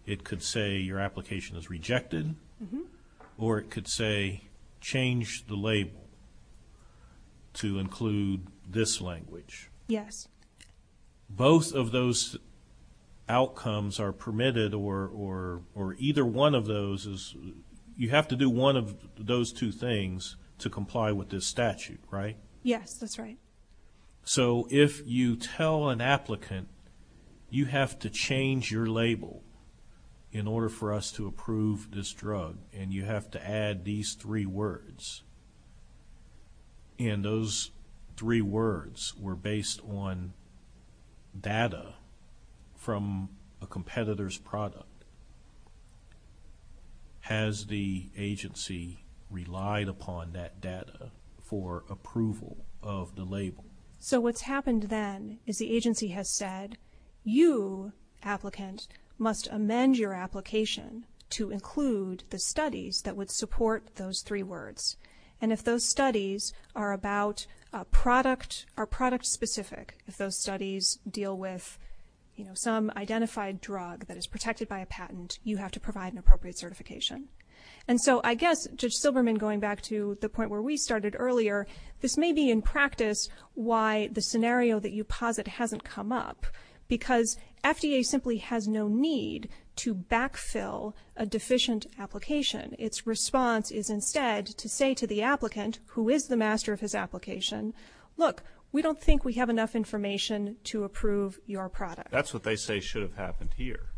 it could say your application is rejected or it could say change the label to include this language. Yes. Both of those outcomes are permitted, or either one of those is, you have to do one of those two things to comply with this statute, right? Yes, that's right. So if you tell an applicant you have to change your label in order for us to approve this drug and you have to add these three words, and those three words were based on data from a competitor's product, has the agency relied upon that data for approval of the label? So what's happened then is the agency has said, you, applicant, must amend your application to include the studies that would support those three words. And if those studies are product-specific, if those studies deal with some identified drug that is protected by a patent, you have to provide an appropriate certification. And so I guess, Judge Silberman, going back to the point where we started earlier, this may be in practice why the scenario that you posit hasn't come up, because FDA simply has no need to backfill a deficient application. Its response is instead to say to the applicant, who is the master of his application, look, we don't think we have enough information to approve your product. That's what they say should have happened here.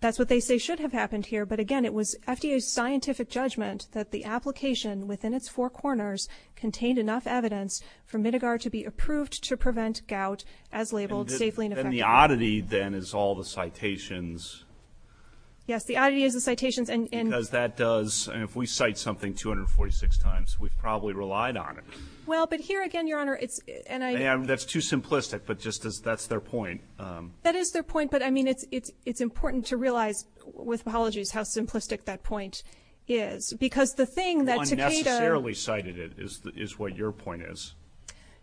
That's what they say should have happened here, but again, it was FDA's scientific judgment that the application within its four corners contained enough evidence for Midgar to be approved to prevent gout as labeled safely and effectively. Then the oddity, then, is all the citations. Yes, the oddity is the citations. Because that does, and if we cite something 246 times, we've probably relied on it. Well, but here again, Your Honor, it's, and I... That's too simplistic, but just that's their point. That is their point, but I mean, it's important to realize, with apologies, how simplistic that point is. Because the thing that Takeda... Unnecessarily cited it is what your point is.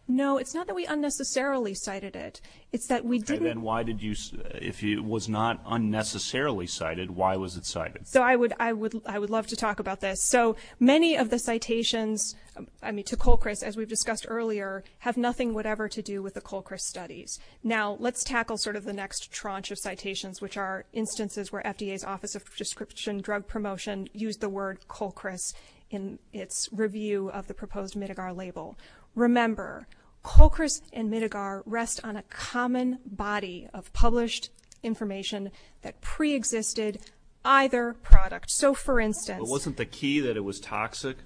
No, it's not that we unnecessarily cited it. It's that we didn't... Then why did you, if it was not unnecessarily cited, why was it cited? So I would love to talk about this. So many of the citations, I mean, to Colchris, as we've discussed earlier, have nothing whatever to do with the Colchris studies. Now, let's tackle sort of the next tranche of citations, which are instances where FDA's Office of Prescription Drug Promotion used the word Colchris in its review of the proposed Midigar label. Remember, Colchris and Midigar rest on a common body of published information that preexisted either product. So, for instance... But wasn't the key that it was toxic?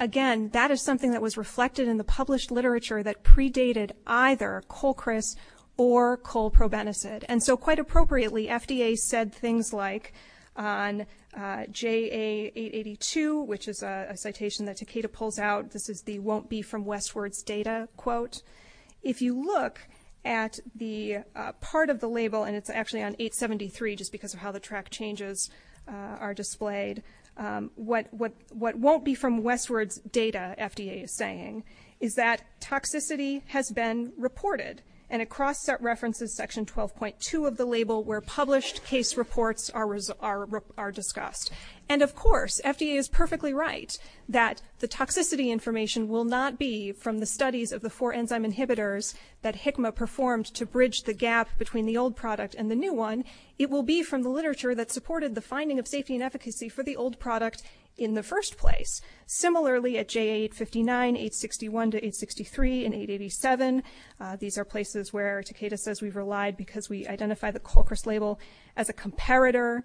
Again, that is something that was reflected in the published literature that predated either Colchris or colprobenicid. And so, quite appropriately, FDA said things like, on JA882, which is a citation that Takeda pulls out, this is the won't be from Westward data quote. If you look at the part of the label, and it's actually on 873, just because of how the trap changes are displayed, what won't be from Westward data, FDA is saying, is that toxicity has been reported. And across that reference is section 12.2 of the label where published case reports are discussed. And, of course, FDA is perfectly right that the toxicity information will not be from the studies of the four enzyme inhibitors that Hikma performed to bridge the gap between the old product and the new one. It will be from the literature that supported the finding of safety and efficacy for the old product in the first place. Similarly, at JA859, 861 to 863, and 887, these are places where Takeda says we've relied because we identified the Colchris label as a comparator.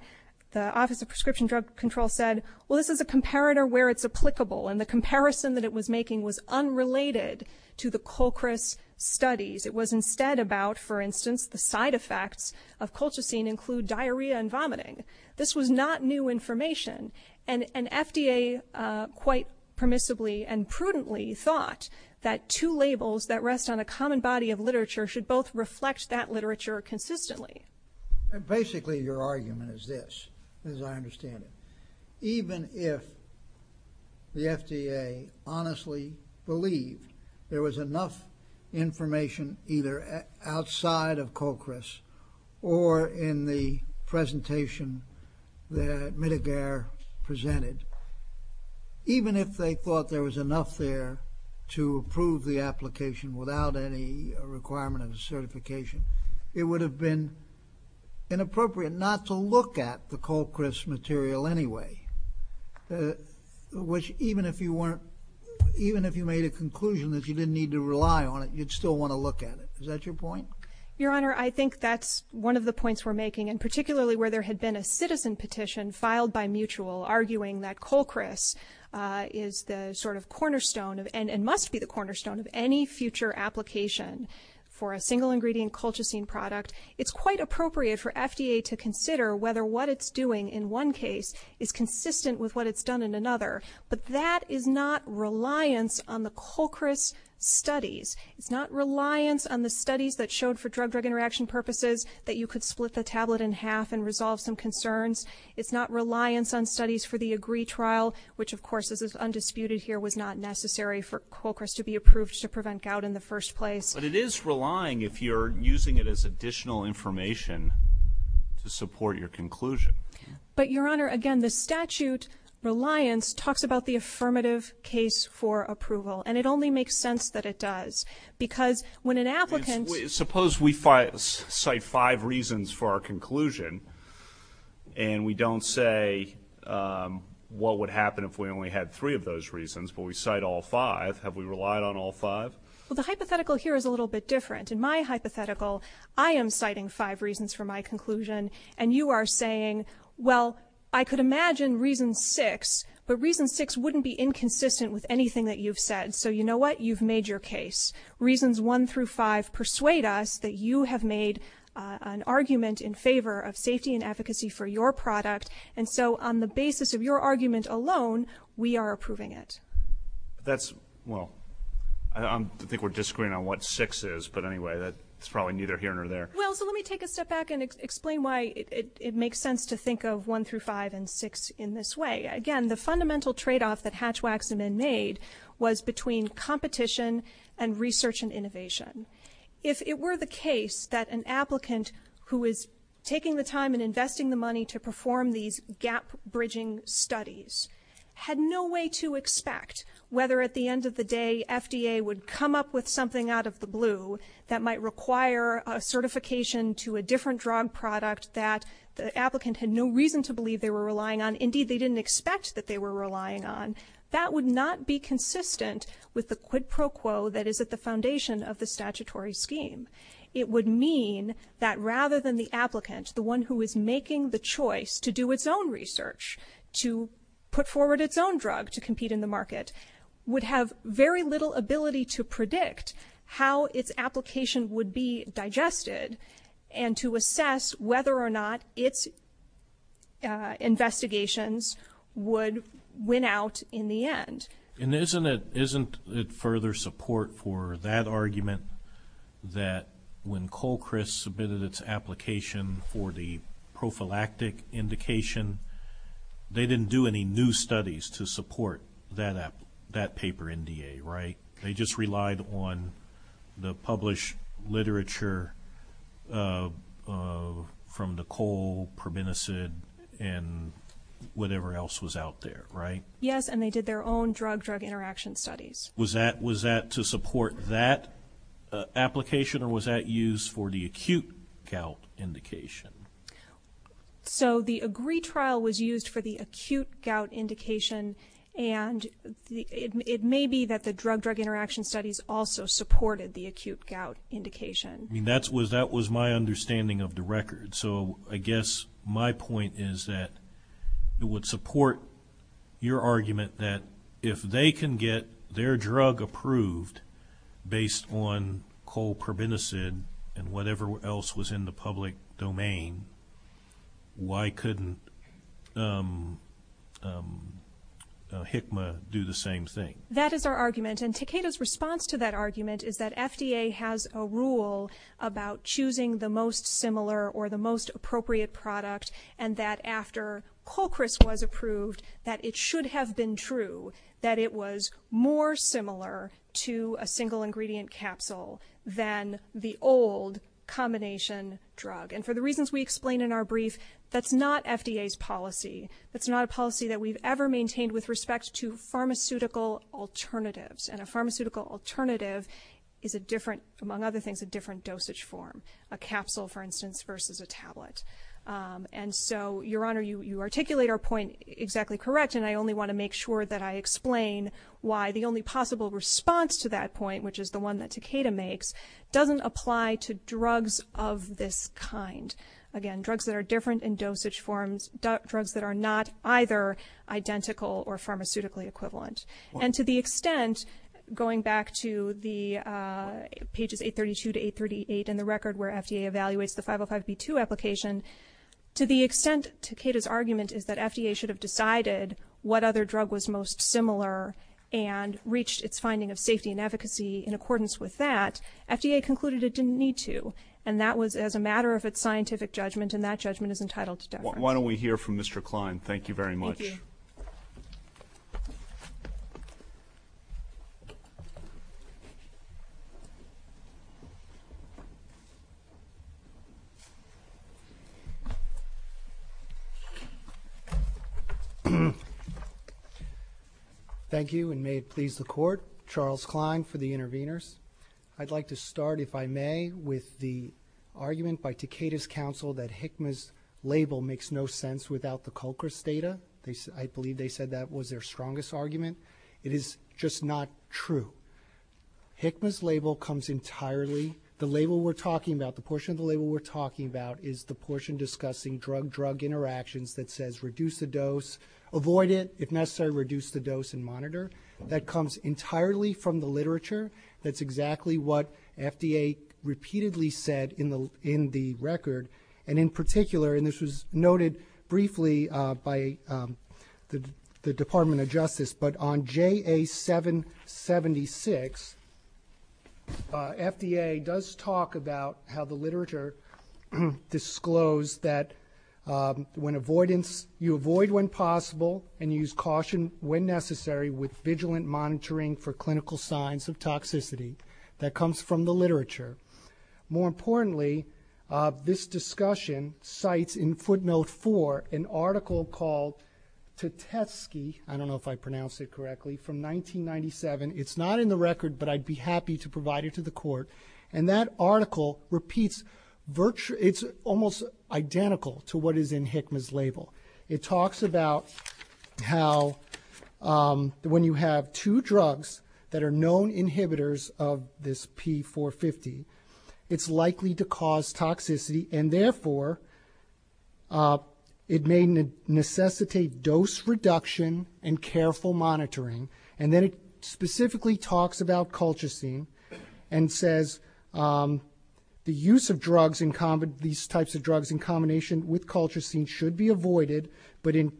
The Office of Prescription Drug Control said, well, this is a comparator where it's applicable. And the comparison that it was making was unrelated to the Colchris studies. It was instead about, for instance, the side effects of colchicine include diarrhea and vomiting. This was not new information. And FDA quite permissibly and prudently thought that two labels that rest on a common body of literature should both reflect that literature consistently. And basically, your argument is this, as I understand it. Even if the FDA honestly believed there was enough information either outside of Colchris or in the presentation that Medgar presented, even if they thought there was enough there to approve the application without any requirement of certification, it would have been inappropriate not to look at the Colchris material anyway, which even if you made a conclusion that you didn't need to rely on it, you'd still want to look at it. Is that your point? Your Honor, I think that's one of the points we're making, and particularly where there had been a citizen petition filed by Mutual arguing that Colchris is the cornerstone and must be the cornerstone of any future application for a single-ingredient colchicine product. It's quite appropriate for FDA to consider whether what it's doing in one case is consistent with what it's done in another. But that is not reliance on the Colchris studies. It's not reliance on the studies that showed for drug-drug interaction purposes that you could split the tablet in half and resolve some concerns. It's not reliance on studies for the AGREE trial, which, of course, this is undisputed here, was not necessary for Colchris to be approved to prevent gout in the first place. But it is relying if you're using it as additional information to support your conclusion. But, Your Honor, again, the statute reliance talks about the affirmative case for approval, and it only makes sense that it does. Because when an applicant... Suppose we cite five reasons for our conclusion and we don't say what would happen if we only had three of those reasons, but we cite all five. Have we relied on all five? Well, the hypothetical here is a little bit different. In my hypothetical, I am citing five reasons for my conclusion, and you are saying, well, I could imagine reason six, but reason six wouldn't be inconsistent with anything that you've said. So you know what? You've made your case. Reasons one through five persuade us that you have made an argument in favor of safety and efficacy for your product, and so on the basis of your argument alone, we are approving it. That's... Well, I think we're disagreeing on what six is, but anyway, that's probably neither here nor there. Well, so let me take a step back and explain why it makes sense to think of one through five and six in this way. Again, the fundamental trade-off that Hatchwacks and NNAID was between competition and research and innovation. If it were the case that an applicant who is taking the time and investing the money to perform these gap-bridging studies had no way to expect whether at the end of the day FDA would come up with something out of the blue that might require a certification to a different drug product that the applicant had no reason to believe they were relying on. Indeed, they didn't expect that they were relying on. That would not be consistent with the quid pro quo that is at the foundation of the statutory scheme. It would mean that rather than the applicant, the one who is making the choice to do its own research, to put forward its own drug to compete in the market, would have very little ability to predict how its application would be digested and to assess whether or not its investigations would win out in the end. And isn't it further support for that argument that when Colchris submitted its application for the prophylactic indication, they didn't do any new studies to support that paper NDA, right? They just relied on the published literature from the Cole, Permanisid, and whatever else was out there, right? Yes, and they did their own drug-drug interaction studies. Was that to support that application or was that used for the acute gout indication? So the AGREE trial was used for the acute gout indication and it may be that the drug-drug interaction studies also supported the acute gout indication. That was my understanding of the record. So I guess my point is that it would support your argument that if they can get their drug approved based on Cole, Permanisid and whatever else was in the public domain, why couldn't HICMA do the same thing? That is our argument, and Takeda's response to that argument is that FDA has a rule about choosing the most similar or the most appropriate product and that after Colchris was approved, that it should have been true that it was more similar to a single-ingredient capsule than the old combination drug. And for the reasons we explained in our brief, that's not FDA's policy. That's not a policy that we've ever maintained with respect to pharmaceutical alternatives, and a pharmaceutical alternative is, among other things, a different dosage form. A capsule, for instance, versus a tablet. And so, Your Honor, you articulate our point exactly correct, and I only want to make sure that I explain why the only possible response to that point, which is the one that Takeda makes, doesn't apply to drugs of this kind. Again, drugs that are different in dosage forms, drugs that are not either identical or pharmaceutically equivalent. And to the extent, going back to the pages 832 to 838 in the record where FDA evaluates the 505B2 application, to the extent Takeda's argument is that FDA should have decided what other drug was most similar and reached its finding of safety and efficacy in accordance with that, FDA concluded it didn't need to. And that was as a matter of its scientific judgment, and that judgment is entitled to death. Why don't we hear from Mr. Klein. Thank you very much. Thank you, and may it please the Court, Charles Klein for the interveners. I'd like to start, if I may, with the argument by Takeda's counsel that HCMAS label makes no sense without the COCRIS data. I believe they said that was their strongest argument. It is just not true. HCMAS label comes entirely... The label we're talking about, the portion of the label we're talking about is the portion discussing drug-drug interactions that says reduce the dose, avoid it, if necessary, reduce the dose and monitor. That comes entirely from the literature. That's exactly what FDA repeatedly said in the record, and in particular, and this was noted briefly by the Department of Justice, but on JA-776, FDA does talk about how the literature disclosed that you avoid when possible and use caution when necessary with vigilant monitoring for clinical signs of toxicity. That comes from the literature. More importantly, this discussion cites in footnote 4 an article called Tatesky, I don't know if I pronounced it correctly, from 1997. It's not in the record, but I'd be happy to provide it to the court, and that article repeats virtually... It's almost identical to what is in HCMAS label. It talks about how when you have two drugs that are known inhibitors of this P450, it's likely to cause toxicity, and therefore it may necessitate dose reduction and careful monitoring, and then it specifically talks about Colchicine and says the use of these types of drugs in combination with Colchicine should be avoided, but in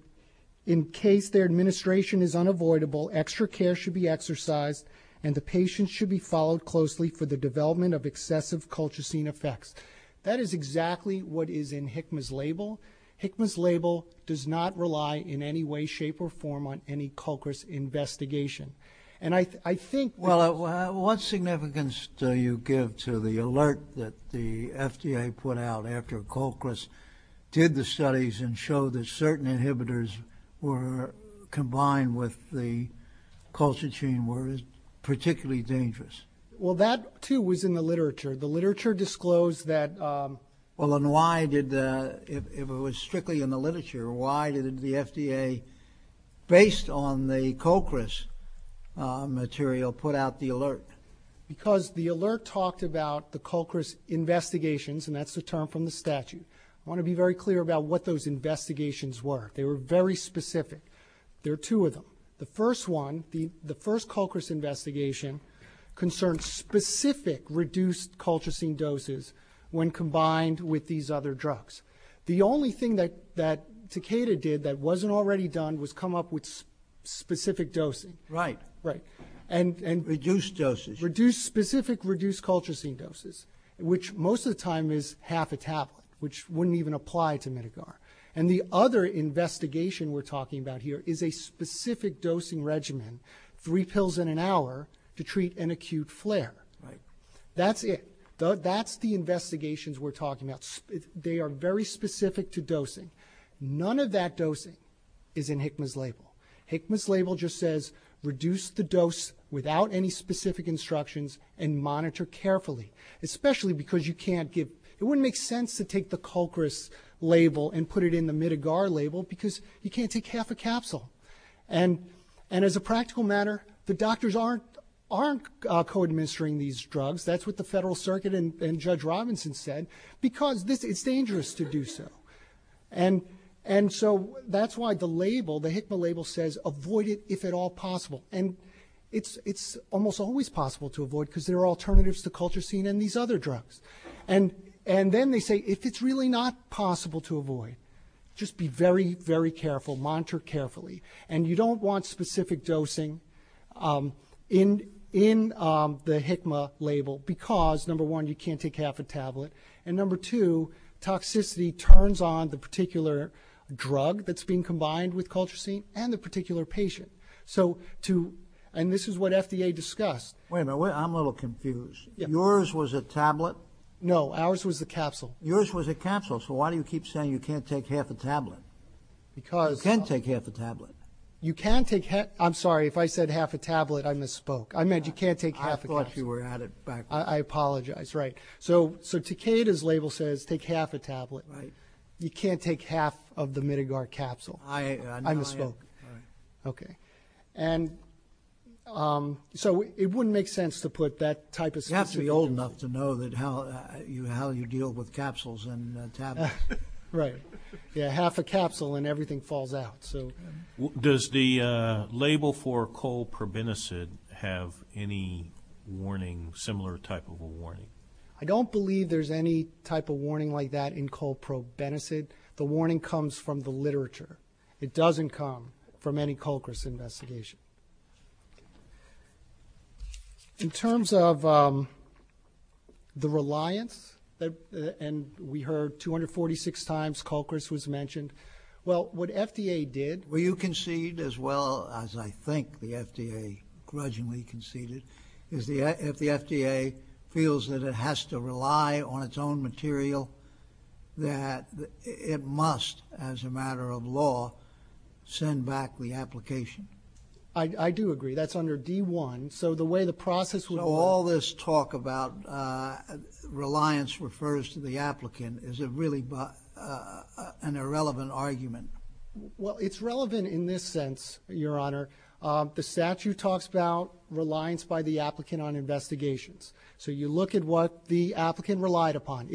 case their administration is unavoidable, extra care should be exercised, and the patient should be followed closely for the development of excessive Colchicine effects. That is exactly what is in HCMAS label. HCMAS label does not rely in any way, shape, or form on any Colchis investigation. And I think... Well, what significance do you give to the alert that the FDA put out after Colchis did the studies and showed that certain inhibitors were combined with the Colchicine were particularly dangerous? Well, that, too, was in the literature. The literature disclosed that... Well, and why did the... If it was strictly in the literature, why did the FDA, based on the Colchis material, put out the alert? Because the alert talked about the Colchis investigations, and that's the term from the statute. I want to be very clear about what those investigations were. They were very specific. There are two of them. The first one, the first Colchis investigation, concerned specific reduced Colchicine doses when combined with these other drugs. The only thing that Takeda did that wasn't already done was come up with specific doses. Right. Right. And... Reduced doses. Specific reduced Colchicine doses, which most of the time is half a tablet, which wouldn't even apply to Medicar. And the other investigation we're talking about here is a specific dosing regimen, three pills in an hour to treat an acute flare. Right. That's it. That's the investigations we're talking about. They are very specific to dosing. None of that dosing is in Hikma's label. Hikma's label just says, reduce the dose without any specific instructions and monitor carefully, especially because you can't give... You can't put it in the Medicar label because you can't take half a capsule. And as a practical matter, the doctors aren't co-administering these drugs. That's what the Federal Circuit and Judge Robinson said because it's dangerous to do so. And so that's why the label, the Hikma label, says avoid it if at all possible. And it's almost always possible to avoid because there are alternatives to Colchicine and these other drugs. And then they say if it's really not possible to avoid, just be very, very careful. Monitor carefully. And you don't want specific dosing in the Hikma label because, number one, you can't take half a tablet, and number two, toxicity turns on the particular drug that's being combined with Colchicine and the particular patient. And this is what FDA discussed. Wait a minute. I'm a little confused. Yours was a tablet? No. Ours was a capsule. Yours was a capsule. So why do you keep saying you can't take half a tablet? Because you can take half a tablet. You can take half. I'm sorry. If I said half a tablet, I misspoke. I meant you can't take half a tablet. I thought you were at it. I apologize. Right. So Takeda's label says take half a tablet. Right. You can't take half of the Midgar capsule. I misspoke. Right. Okay. And so it wouldn't make sense to put that type of thing. You have to be old enough to know how you deal with capsules and tablets. Right. Yeah, half a capsule and everything falls out. Does the label for colprobenicid have any warning, similar type of a warning? I don't believe there's any type of warning like that in colprobenicid. The warning comes from the literature. It doesn't come from any Culker's investigation. In terms of the reliance, and we heard 246 times Culker's was mentioned, well, what FDA did. Well, you concede as well as I think the FDA grudgingly conceded. If the FDA feels that it has to rely on its own material, that it must, as a matter of law, send back the application. I do agree. That's under D1. So the way the process would work. So all this talk about reliance refers to the applicant. Is it really an irrelevant argument? Well, it's relevant in this sense, Your Honor. The statute talks about reliance by the applicant on investigations. So you look at what the applicant relied upon.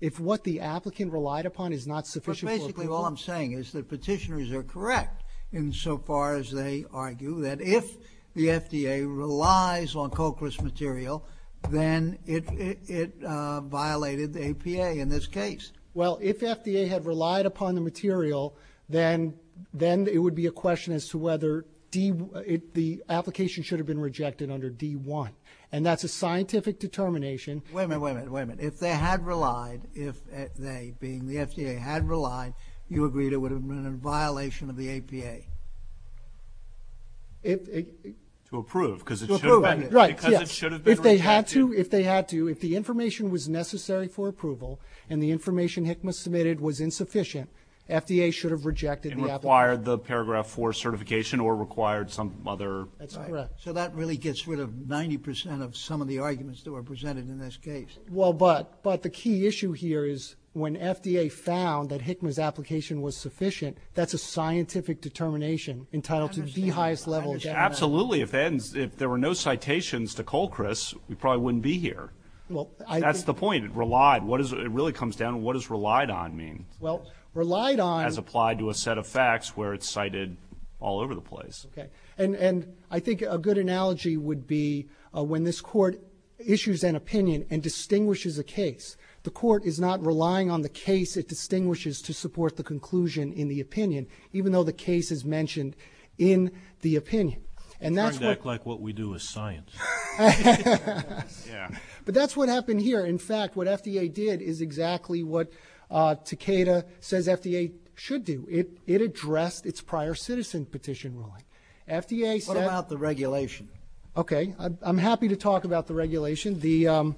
If what the applicant relied upon is not sufficient. Basically, all I'm saying is that petitioners are correct in so far as they argue that if the FDA relies on Culker's material, then it violated the APA in this case. Well, if FDA had relied upon the material, then it would be a question as to whether the application should have been rejected under D1. And that's a scientific determination. Wait a minute, wait a minute, wait a minute. If they had relied, if they, being the FDA, had relied, you agree it would have been a violation of the APA? To approve, because it should have been. Right, yeah. Because it should have been rejected. If they had to, if they had to, if the information was necessary for approval and the information HCMAS submitted was insufficient, FDA should have rejected the application. And required the Paragraph 4 certification or required some other. That's correct. So that really gets rid of 90% of some of the arguments that were made in this case. Well, but the key issue here is when FDA found that HCMAS application was sufficient, that's a scientific determination entitled to the highest level of judgment. Absolutely. If there were no citations to Culker's, we probably wouldn't be here. That's the point, relied. It really comes down to what does relied on mean? Well, relied on. As applied to a set of facts where it's cited all over the place. And I think a good analogy would be when this court issues an opinion and distinguishes a case, the court is not relying on the case it distinguishes to support the conclusion in the opinion, even though the case is mentioned in the opinion. And that's like what we do is science. But that's what happened here. In fact, what FDA did is exactly what Takeda says FDA should do. It addressed its prior citizen petition ruling. FDA said. What about the regulation? Okay. I'm happy to talk about the regulation. The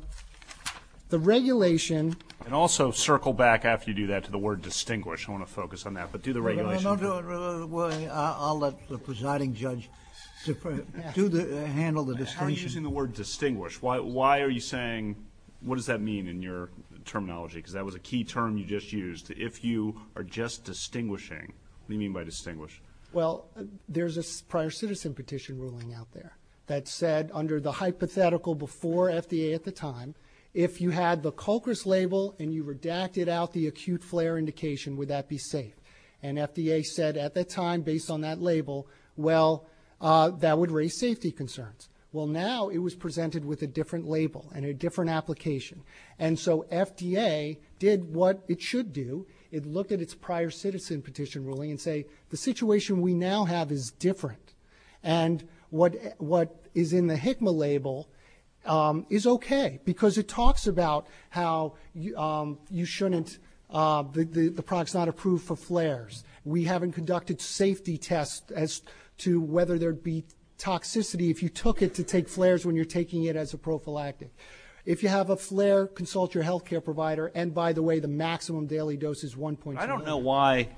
regulation. And also circle back after you do that to the word distinguish. I want to focus on that. But do the regulation. I'll let the presiding judge handle the distinction. How are you using the word distinguish? Why are you saying, what does that mean in your terminology? Because that was a key term you just used. If you are just distinguishing, what do you mean by distinguish? Well, there's a prior citizen petition ruling out there that said under the hypothetical before FDA at the time, if you had the culprits label and you redacted out the acute flare indication, would that be safe? And FDA said at that time, based on that label, well, that would raise safety concerns. Well, now it was presented with a different label and a different application. And so FDA did what it should do. It looked at its prior citizen petition ruling and say, the situation we now have is different. And what is in the HICMA label is okay. Because it talks about how you shouldn't, the product's not approved for flares. We haven't conducted safety tests as to whether there'd be toxicity if you took it to take flares when you're taking it as a prophylactic. If you have a flare, consult your healthcare provider. And by the way, the maximum daily dose is 1.2. I don't know why,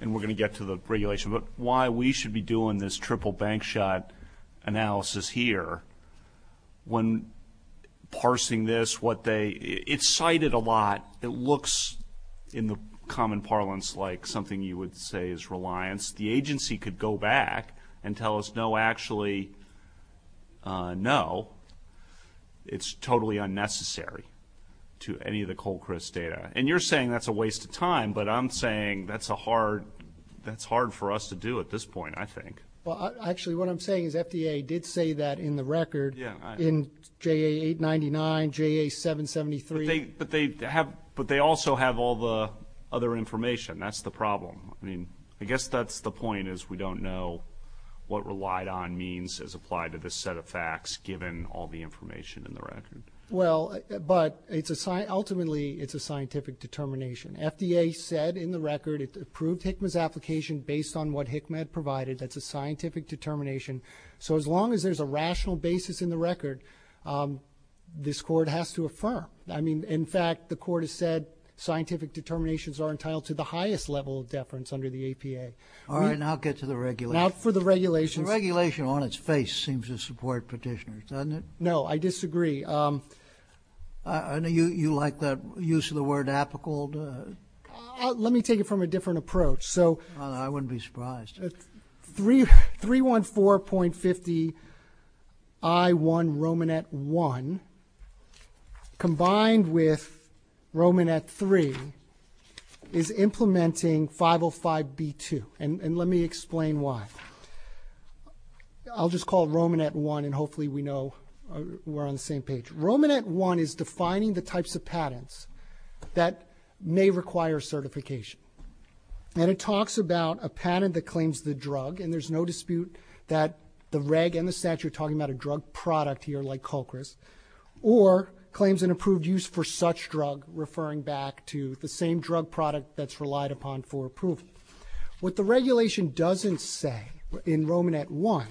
and we're going to get to the regulation, but why we should be doing this triple bank shot analysis here when parsing this, what they, it's cited a lot. It looks in the common parlance like something you would say is reliance. The agency could go back and tell us, no, actually, no. It's totally unnecessary to any of the Colchris data. And you're saying that's a waste of time, but I'm saying that's a hard, that's hard for us to do at this point, I think. Well, actually, what I'm saying is FDA did say that in the record. Yeah. In JA 899, JA 773. But they have, but they also have all the other information. That's the problem. I mean, I guess that's the point is, we don't know what relied on means as applied to this set of facts, given all the information in the record. Well, but it's a, ultimately it's a scientific determination. FDA said in the record, it approved Hickman's application based on what Hickman had provided. That's a scientific determination. So as long as there's a rational basis in the record, this court has to affirm. I mean, in fact, the court has said scientific determinations are entitled to the highest level of deference under the APA. All right. Now I'll get to the regulation. Not for the regulation. The regulation on its face seems to support petitioners, doesn't it? No, I disagree. I know you like that use of the word apical. Let me take it from a different approach. So I wouldn't be surprised. 3, 3, 1, 4.50. I won Roman at one. Combined with Roman at three is implementing 505 B2. And let me explain why. I'll just call Roman at one. And hopefully we know we're on the same page. Roman at one is defining the types of patents that may require certification. And it talks about a patent that claims the drug. And there's no dispute that the reg and the statue are talking about a drug product here, like Cochran's. Or claims an approved use for such drug, referring back to the same drug product that's relied upon for approval. What the regulation doesn't say in Roman at one,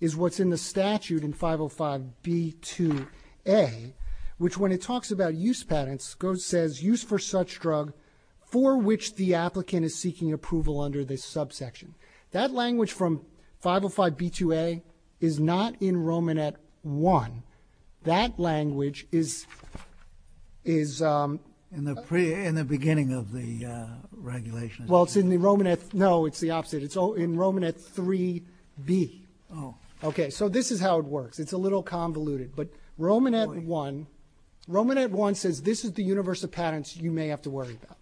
is what's in the statute in 505 B2A, which when it talks about use patents, says use for such drug for which the applicant is seeking approval under this subsection. That language from 505 B2A is not in Roman at one. That language is, is. In the beginning of the regulation. Well, it's in the Roman at, no, it's the opposite. It's in Roman at three B. Oh. Okay, so this is how it works. It's a little convoluted. But Roman at one, Roman at one says, this is the universe of patents you may have to worry about.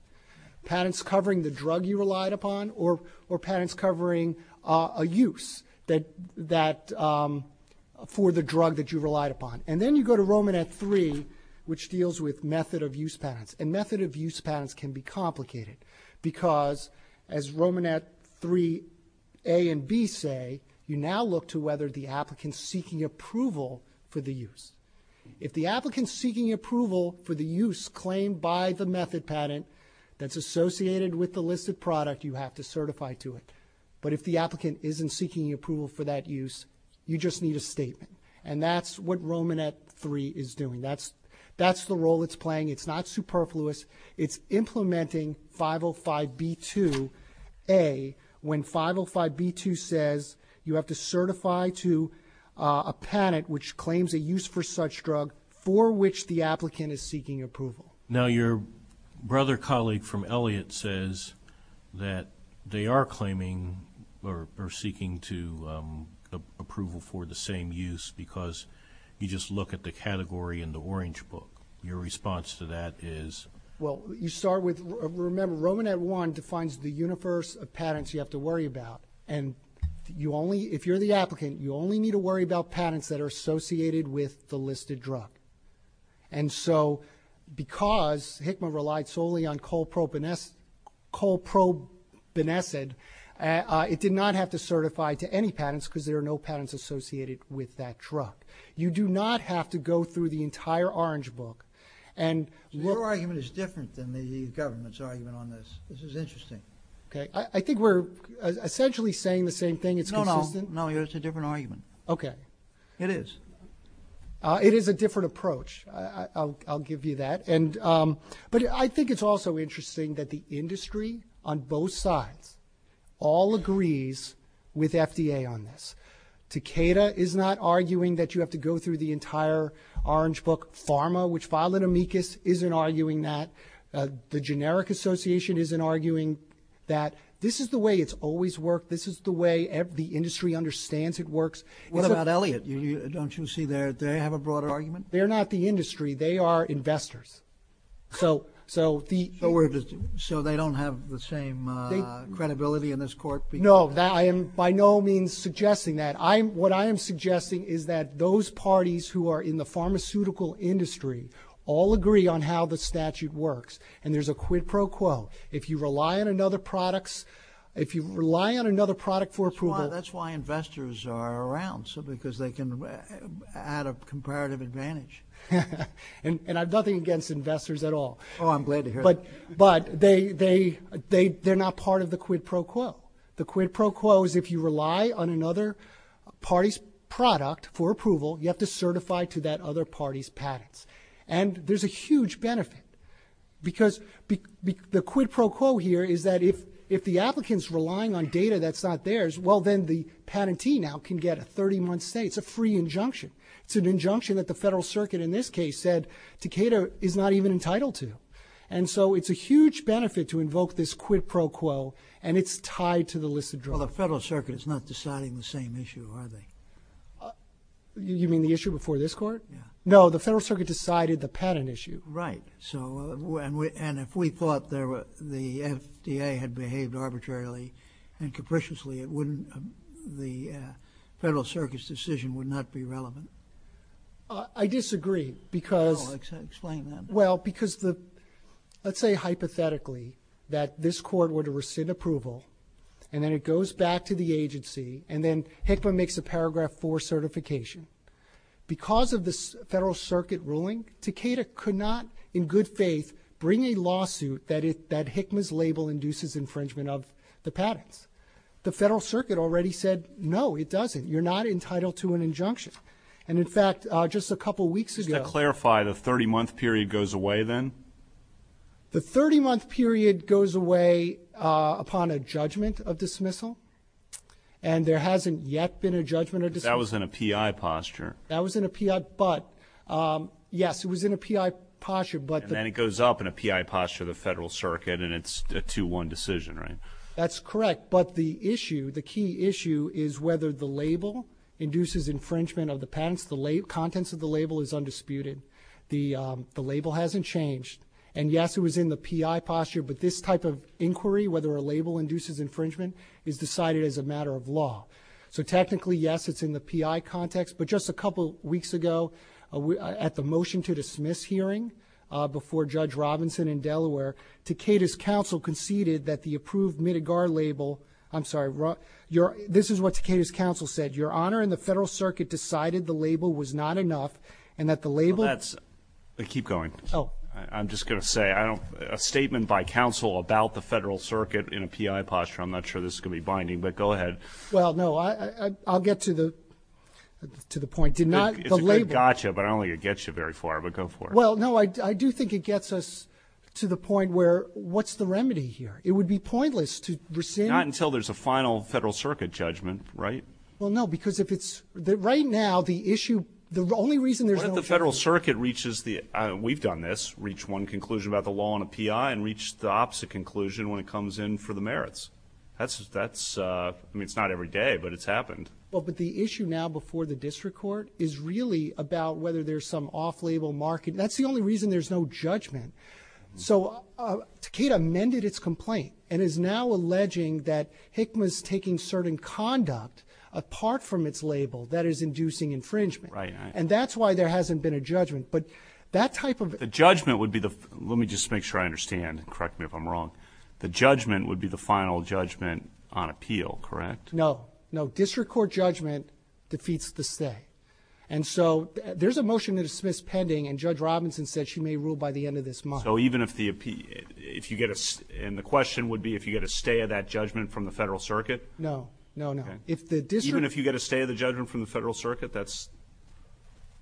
Patents covering the drug you relied upon, or patents covering a use that, for the drug that you relied upon. And then you go to Roman at three, which deals with method of use patents. And method of use patents can be complicated because as Roman at three, a and B say, you now look to whether the applicant seeking approval for the use. If the applicant seeking approval for the use claimed by the method patent that's associated with the listed product, you have to certify to it. But if the applicant isn't seeking approval for that use, you just need a statement. And that's what Roman at three is doing. That's, that's the role it's playing. It's not superfluous. It's implementing 505B2A. When 505B2 says you have to certify to a patent which claims a use for such drug for which the applicant is seeking approval. Now your brother colleague from Elliott says that they are claiming or seeking to approval for the same use because you just look at the category in the orange book. Your response to that is? Well, you start with, remember Roman at one defines the universe of patents you have to worry about. And you only, if you're the applicant, you only need to worry about patents that are associated with the listed drug. And so because HITMA relied solely on Colprobenethad, it did not have to certify to any patents because there are no patents associated with that drug. You do not have to go through the entire orange book. Your argument is different than the government's argument on this. This is interesting. Okay. I think we're essentially saying the same thing. No, no. It's a different argument. Okay. It is. It is a different approach. I'll give you that. But I think it's also interesting that the industry on both sides all agrees with FDA on this. Takeda is not arguing that you have to go through the entire orange book pharma, which Violet Amicus isn't arguing that. The Generic Association isn't arguing that. This is the way it's always worked. This is the way the industry understands it works. What about Elliott? Don't you see they have a broader argument? They're not the industry. They are investors. So they don't have the same credibility in this court? No. I am by no means suggesting that. What I am suggesting is that those parties who are in the pharmaceutical industry all agree on how the statute works. And there's a quid pro quo. If you rely on another product for approval. That's why investors are around, because they can add a comparative advantage. And I have nothing against investors at all. Oh, I'm glad to hear that. But they're not part of the quid pro quo. The quid pro quo is if you rely on another party's product for approval, you have to certify to that other party's patents. And there's a huge benefit. Because the quid pro quo here is that if the applicant is relying on data that's not theirs, well, then the patentee now can get a 30-month stay. It's a free injunction. It's an injunction that the federal circuit in this case said Takeda is not even entitled to. And so it's a huge benefit to invoke this quid pro quo. And it's tied to the list of drugs. Well, the federal circuit is not deciding the same issue, are they? You mean the issue before this court? No, the federal circuit decided the patent issue. Right. And if we thought the FDA had behaved arbitrarily and capriciously, the federal circuit's decision would not be relevant. I disagree. Explain that. Well, because let's say hypothetically that this court were to rescind approval and then it goes back to the agency and then HCMA makes a Paragraph 4 certification. Because of this federal circuit ruling, Takeda could not in good faith bring a lawsuit that HCMA's label induces infringement of the patent. The federal circuit already said, no, it doesn't. You're not entitled to an injunction. And, in fact, just a couple weeks ago ---- The 30-month period goes away then? The 30-month period goes away upon a judgment of dismissal. And there hasn't yet been a judgment of dismissal. That was in a PI posture. That was in a PI. But, yes, it was in a PI posture. And then it goes up in a PI posture of the federal circuit, and it's a 2-1 decision, right? That's correct. But the issue, the key issue, is whether the label induces infringement of the patent. The contents of the label is undisputed. The label hasn't changed. And, yes, it was in the PI posture. But this type of inquiry, whether a label induces infringement, is decided as a matter of law. So, technically, yes, it's in the PI context. But just a couple weeks ago, at the motion to dismiss hearing, before Judge Robinson in Delaware, Takeda's counsel conceded that the approved Mitigar label ---- I'm sorry, this is what Takeda's counsel said. Your Honor, the federal circuit decided the label was not enough and that the label ---- Keep going. Oh. I'm just going to say, a statement by counsel about the federal circuit in a PI posture, I'm not sure this is going to be binding, but go ahead. Well, no, I'll get to the point. It's a good gotcha, but I don't think it gets you very far, but go for it. Well, no, I do think it gets us to the point where what's the remedy here? It would be pointless to rescind ---- Not until there's a final federal circuit judgment, right? Well, no, because if it's ---- Right now, the issue, the only reason there's no ---- What if the federal circuit reaches the, we've done this, reached one conclusion about the law on a PI and reached the opposite conclusion when it comes in for the merits? That's, I mean, it's not every day, but it's happened. Well, but the issue now before the district court is really about whether there's some off-label market. That's the only reason there's no judgment. So Takeda amended its complaint and is now alleging that HCMA is taking certain conduct, apart from its label, that is inducing infringement. And that's why there hasn't been a judgment. But that type of ---- The judgment would be the, let me just make sure I understand, correct me if I'm wrong, the judgment would be the final judgment on appeal, correct? No, no, district court judgment defeats the stay. And so there's a motion to dismiss pending, and Judge Robinson said she may rule by the end of this month. So even if the appeal, if you get a, and the question would be if you get a stay of that judgment from the federal circuit? No, no, no. Even if you get a stay of the judgment from the federal circuit?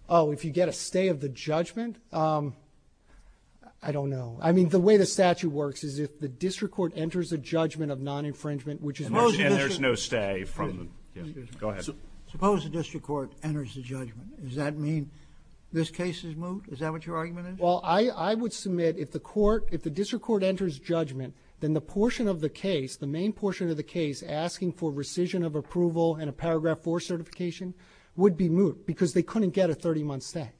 Oh, if you get a stay of the judgment? I don't know. I mean, the way the statute works is if the district court enters a judgment of non-infringement, which is most ---- And there's no stay from, go ahead. Suppose the district court enters the judgment. Does that mean this case is moved? Is that what your argument is? Well, I would submit if the court, if the district court enters judgment, then the portion of the case, the main portion of the case, asking for rescission of approval and a Paragraph 4 certification would be moved because they couldn't get a 30-month stay.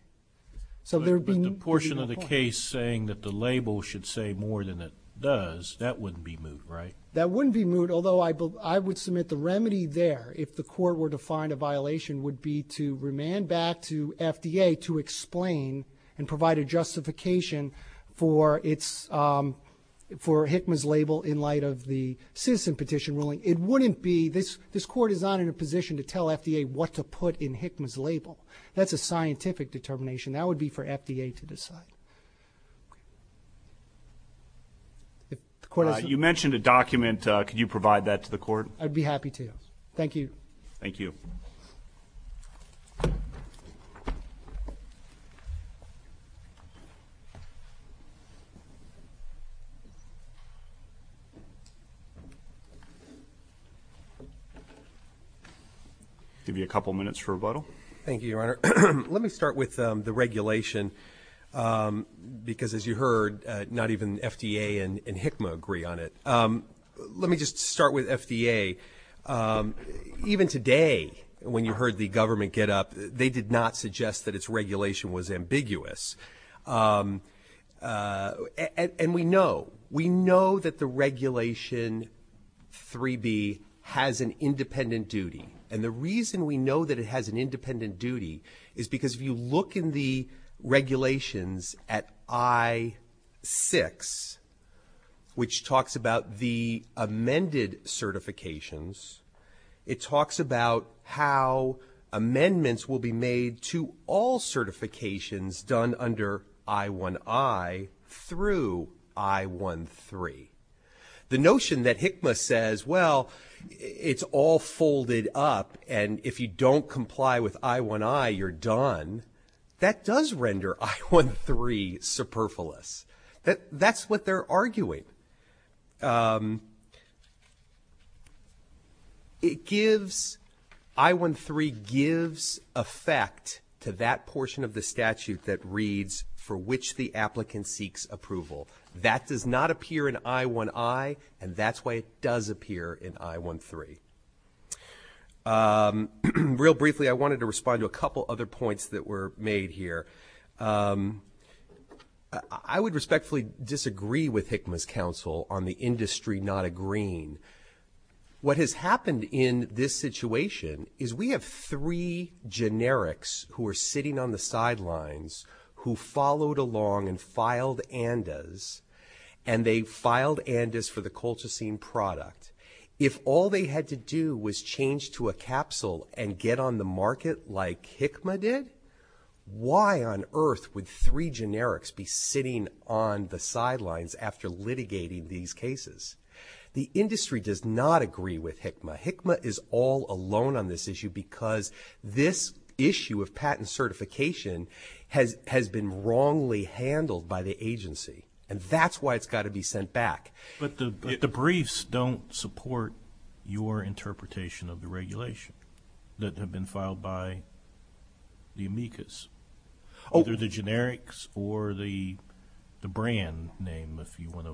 So there would be no point. But the portion of the case saying that the label should say more than it does, that wouldn't be moved, right? That wouldn't be moved, although I would submit the remedy there, if the court were to find a violation, would be to remand back to FDA to explain and provide a justification for HICMA's label in light of the citizen petition ruling. It wouldn't be. This court is not in a position to tell FDA what to put in HICMA's label. That's a scientific determination. That would be for FDA to decide. You mentioned a document. Could you provide that to the court? I'd be happy to. Thank you. I'll give you a couple of minutes for rebuttal. Thank you, Your Honor. Let me start with the regulation because, as you heard, not even FDA and HICMA agree on it. Even today, when you heard the government get up, they did not suggest that its regulation was ambiguous. And we know. We know that the Regulation 3B has an independent duty. And the reason we know that it has an independent duty is because, if you look in the regulations at I-6, which talks about the amended certifications, it talks about how amendments will be made to all certifications done under I-1i through I-1-3. The notion that HICMA says, well, it's all folded up, and if you don't comply with I-1i, you're done, that does render I-1-3 superfluous. That's what they're arguing. I-1-3 gives effect to that portion of the statute that reads, for which the applicant seeks approval. That does not appear in I-1i, and that's why it does appear in I-1-3. Real briefly, I wanted to respond to a couple other points that were made here. I would respectfully disagree with HICMA's counsel on the industry not agreeing. What has happened in this situation is we have three generics who are sitting on the sidelines who followed along and filed ANDAs, and they filed ANDAs for the Colchicine product. If all they had to do was change to a capsule and get on the market like HICMA did, why on earth would three generics be sitting on the sidelines after litigating these cases? The industry does not agree with HICMA. HICMA is all alone on this issue because this issue of patent certification has been wrongly handled by the agency, and that's why it's got to be sent back. But the briefs don't support your interpretation of the regulation that had been filed by the amicus, either the generics or the brand name, if you want to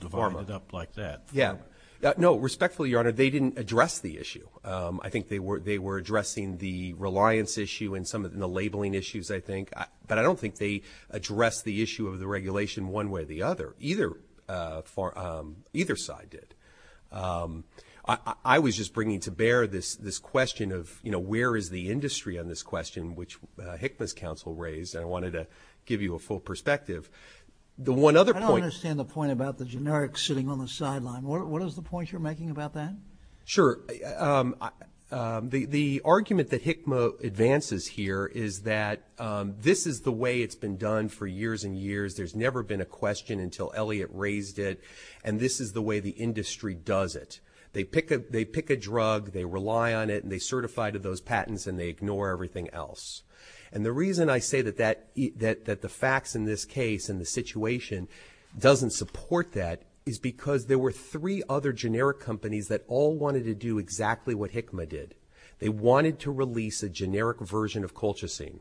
develop it up like that. Yeah. No, respectfully, Your Honor, they didn't address the issue. I think they were addressing the reliance issue and some of the labeling issues, I think. But I don't think they addressed the issue of the regulation one way or the other. Either side did. I was just bringing to bear this question of, you know, where is the industry on this question, which HICMA's counsel raised, and I wanted to give you a full perspective. The one other point. I don't understand the point about the generics sitting on the sidelines. What is the point you're making about that? Sure. The argument that HICMA advances here is that this is the way it's been done for years and years. There's never been a question until Elliot raised it, and this is the way the industry does it. They pick a drug, they rely on it, and they certify to those patents, and they ignore everything else. And the reason I say that the facts in this case and the situation doesn't support that is because there were three other generic companies that all wanted to do exactly what HICMA did. They wanted to release a generic version of Colchicine.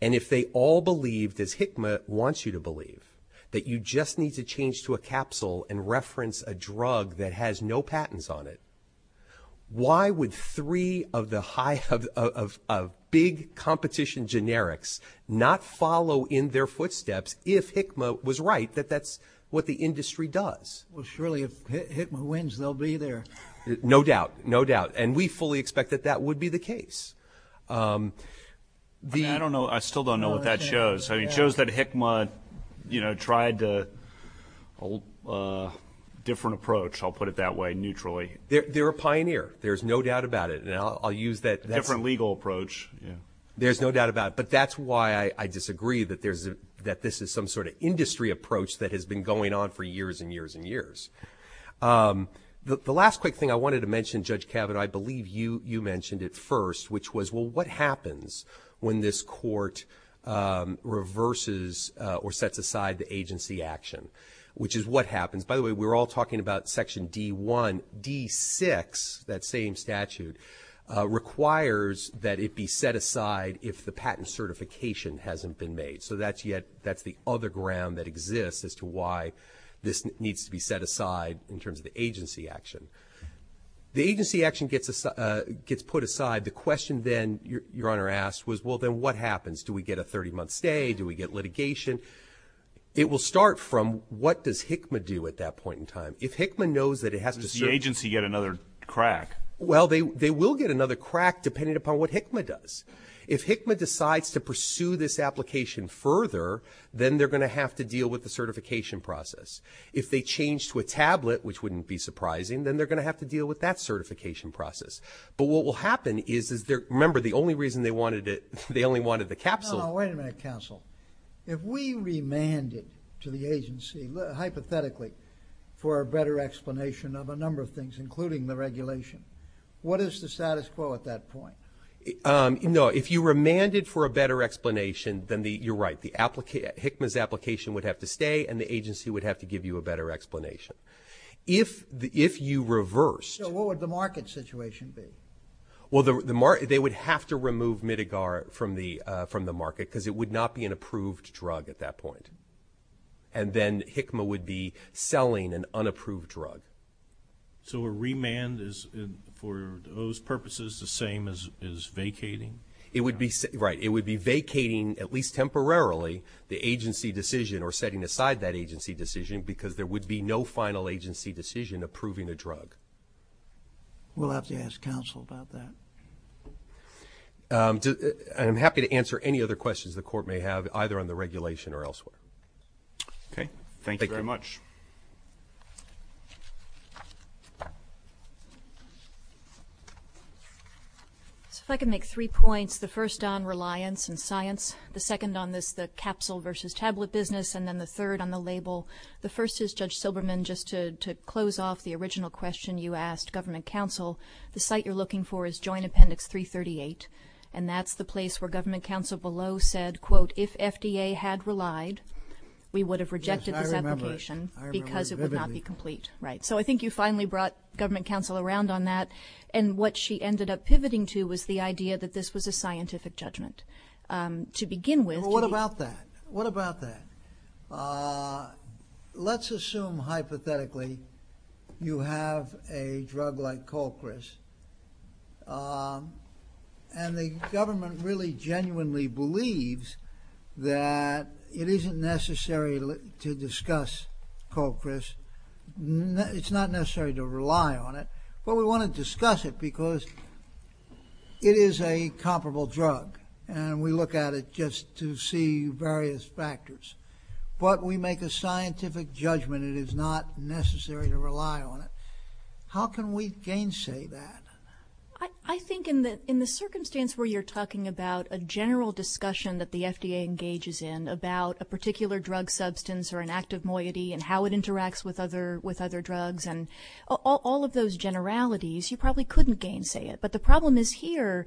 And if they all believed, as HICMA wants you to believe, that you just need to change to a capsule and reference a drug that has no patents on it, why would three of the big competition generics not follow in their footsteps if HICMA was right that that's what the industry does? Well, surely if HICMA wins, they'll be there. No doubt. No doubt. And we fully expect that that would be the case. I don't know. I still don't know what that shows. It shows that HICMA tried a different approach, I'll put it that way, neutrally. They're a pioneer. There's no doubt about it. Different legal approach. There's no doubt about it. But that's why I disagree that this is some sort of industry approach that has been going on for years and years and years. The last quick thing I wanted to mention, Judge Cabot, I believe you mentioned it first, which was, well, what happens when this court reverses or sets aside the agency action, which is what happens? By the way, we're all talking about Section D1. D6, that same statute, requires that it be set aside if the patent certification hasn't been made. So that's the other ground that exists as to why this needs to be set aside in terms of agency action. The agency action gets put aside. The question then your Honor asked was, well, then what happens? Do we get a 30-month stay? Do we get litigation? It will start from what does HICMA do at that point in time? Does the agency get another crack? Well, they will get another crack depending upon what HICMA does. If HICMA decides to pursue this application further, then they're going to have to deal with the certification process. If they change to a tablet, which wouldn't be surprising, then they're going to have to deal with that certification process. But what will happen is, remember, the only reason they wanted it, they only wanted the capsule. No, no, wait a minute, counsel. If we remanded to the agency, hypothetically, for a better explanation of a number of things, including the regulation, what is the status quo at that point? No, if you remanded for a better explanation, then you're right. HICMA's application would have to stay, and the agency would have to give you a better explanation. If you reversed. So what would the market situation be? Well, they would have to remove Mitigar from the market because it would not be an approved drug at that point. And then HICMA would be selling an unapproved drug. So a remand is, for those purposes, the same as vacating? Right. It would be vacating, at least temporarily, the agency decision or setting aside that agency decision because there would be no final agency decision approving a drug. We'll have to ask counsel about that. I'm happy to answer any other questions the court may have, either on the regulation or elsewhere. Okay. Thank you very much. If I could make three points, the first on reliance and science, the second on this capsule versus tablet business, and then the third on the label. The first is, Judge Silberman, just to close off the original question you asked government counsel, the site you're looking for is Joint Appendix 338, and that's the place where government counsel below said, quote, if FDA had relied, we would have rejected the application because it would not be complete. Right. So I think you finally brought government counsel around on that, and what she ended up pivoting to was the idea that this was a scientific judgment. To begin with. Well, what about that? What about that? Let's assume, hypothetically, you have a drug like Colchris, and the government really genuinely believes that it isn't necessary to discuss Colchris. It's not necessary to rely on it, but we want to discuss it because it is a comparable drug, and we look at it just to see various factors. But we make a scientific judgment it is not necessary to rely on it. How can we gainsay that? I think in the circumstance where you're talking about a general discussion that the FDA engages in about a particular drug substance or an active moiety and how it interacts with other drugs and all of those generalities, you probably couldn't gainsay it. But the problem is here,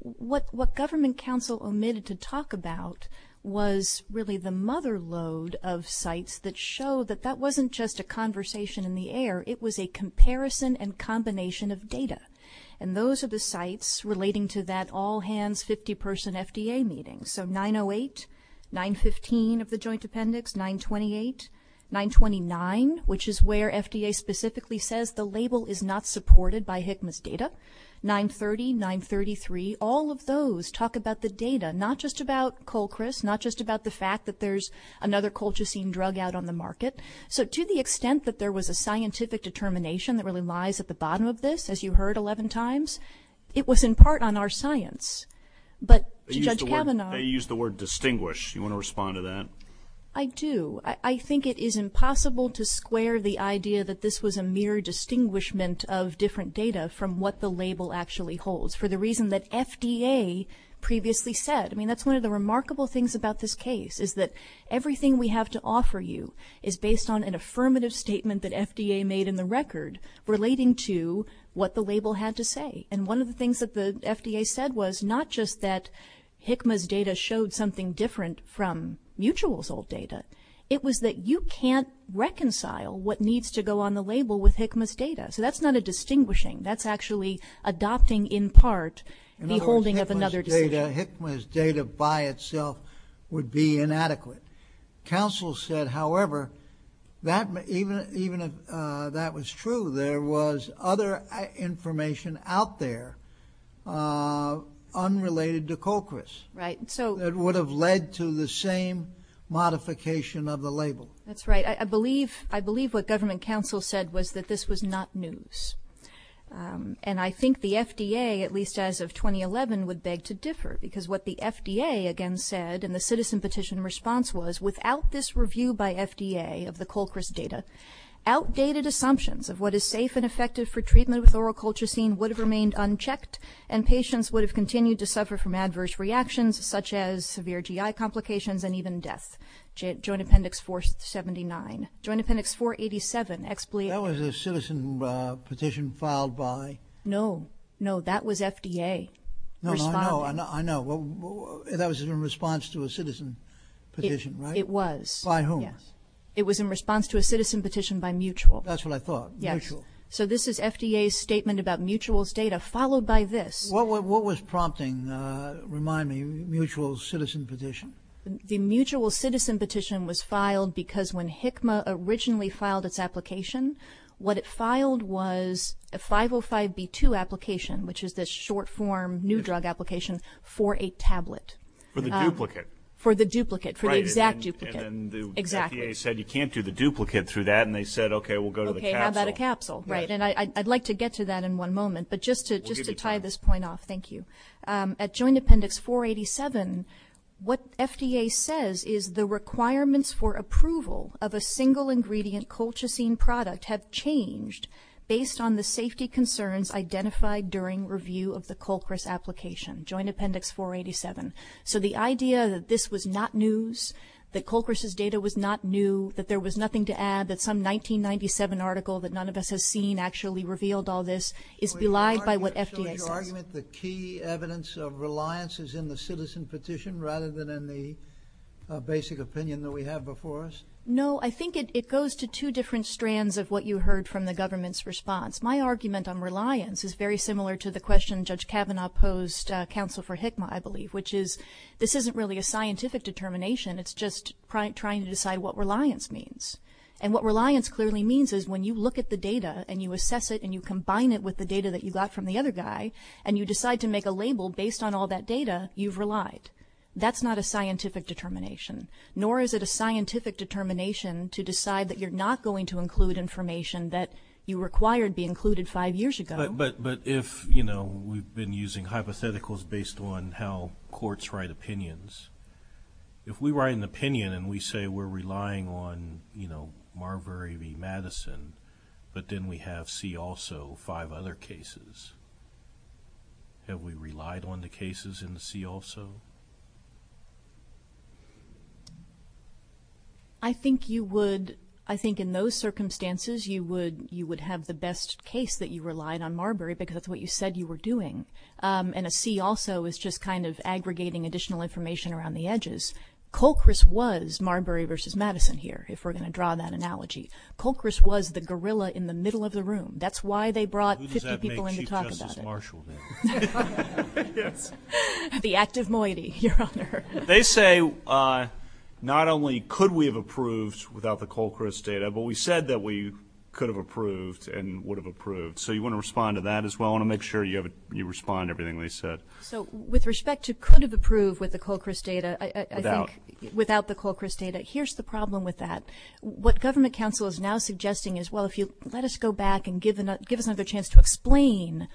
what government counsel omitted to talk about was really the mother load of sites that show that that wasn't just a conversation in the air. It was a comparison and combination of data, and those are the sites relating to that all-hands 50-person FDA meeting. So 908, 915 of the joint appendix, 928, 929, which is where FDA specifically says the label is not supported by HCMAS data, 930, 933, all of those talk about the data, not just about Colchris, not just about the fact that there's another colchicine drug out on the market. So to the extent that there was a scientific determination that really lies at the bottom of this, as you heard 11 times, it was in part on our science. But Judge Kavanaugh used the word distinguish. Do you want to respond to that? I do. I think it is impossible to square the idea that this was a mere distinguishment of different data from what the label actually holds for the reason that FDA previously said. I mean, that's one of the remarkable things about this case, is that everything we have to offer you is based on an affirmative statement that FDA made in the record relating to what the label had to say. And one of the things that the FDA said was not just that HCMAS data showed something different from Mutual's old data, it was that you can't reconcile what needs to go on the label with HCMAS data. So that's not a distinguishing. That's actually adopting in part the holding of another. In other words, HCMAS data by itself would be inadequate. Counsel said, however, even if that was true, there was other information out there unrelated to Colchris. Right. That would have led to the same modification of the label. That's right. I believe what government counsel said was that this was not news. And I think the FDA, at least as of 2011, would beg to differ, because what the FDA again said in the citizen petition response was, without this review by FDA of the Colchris data, outdated assumptions of what is safe and effective for treatment with oral colchicine would have remained unchecked and patients would have continued to suffer from adverse reactions such as severe GI complications and even death. Joint Appendix 479. Joint Appendix 487. That was a citizen petition filed by? No. No, that was FDA. I know. That was in response to a citizen petition, right? It was. By whom? It was in response to a citizen petition by Mutual. That's what I thought. Mutual. So this is FDA's statement about Mutual's data, followed by this. What was prompting, remind me, Mutual's citizen petition? The Mutual's citizen petition was filed because when HCMA originally filed its application, what it filed was a 505B2 application, which is this short-form new drug application for a tablet. For the duplicate. For the duplicate, for the exact duplicate. And the FDA said you can't do the duplicate through that, and they said, okay, we'll go to the capsule. And I'd like to get to that in one moment, but just to tie this point off. Thank you. At Joint Appendix 487, what FDA says is the requirements for approval of a single-ingredient colchicine product have changed based on the safety concerns identified during review of the Colchris application. Joint Appendix 487. So the idea that this was not news, that Colchris's data was not new, that there was nothing to add, that some 1997 article that none of us has seen actually revealed all this, is belied by what FDA does. So is your argument the key evidence of reliance is in the citizen petition rather than in the basic opinion that we have before us? No, I think it goes to two different strands of what you heard from the government's response. My argument on reliance is very similar to the question Judge Kavanaugh posed, counsel for HCMA, I believe, which is this isn't really a scientific determination, it's just trying to decide what reliance means. And what reliance clearly means is when you look at the data and you assess it and you combine it with the data that you got from the other guy and you decide to make a label based on all that data, you've relied. That's not a scientific determination, nor is it a scientific determination to decide that you're not going to include information that you required be included five years ago. But if, you know, we've been using hypotheticals based on how courts write opinions, if we write an opinion and we say we're relying on, you know, Marbury v. Madison, but then we have C also five other cases, have we relied on the cases in the C also? I think you would, I think in those circumstances you would have the best case that you relied on Marbury because that's what you said you were doing. And a C also is just kind of aggregating additional information around the edges. Colchris was Marbury v. Madison here, if we're going to draw that analogy. Colchris was the gorilla in the middle of the room. That's why they brought 50 people in to talk about it. Who does that make Chief Justice Marshall then? The active moiety, Your Honor. They say not only could we have approved without the Colchris data, but we said that we could have approved and would have approved. So you want to respond to that as well? I want to make sure you respond to everything they said. So with respect to could have approved with the Colchris data, without the Colchris data, here's the problem with that. What government counsel is now suggesting is, well, if you let us go back and give us another chance to explain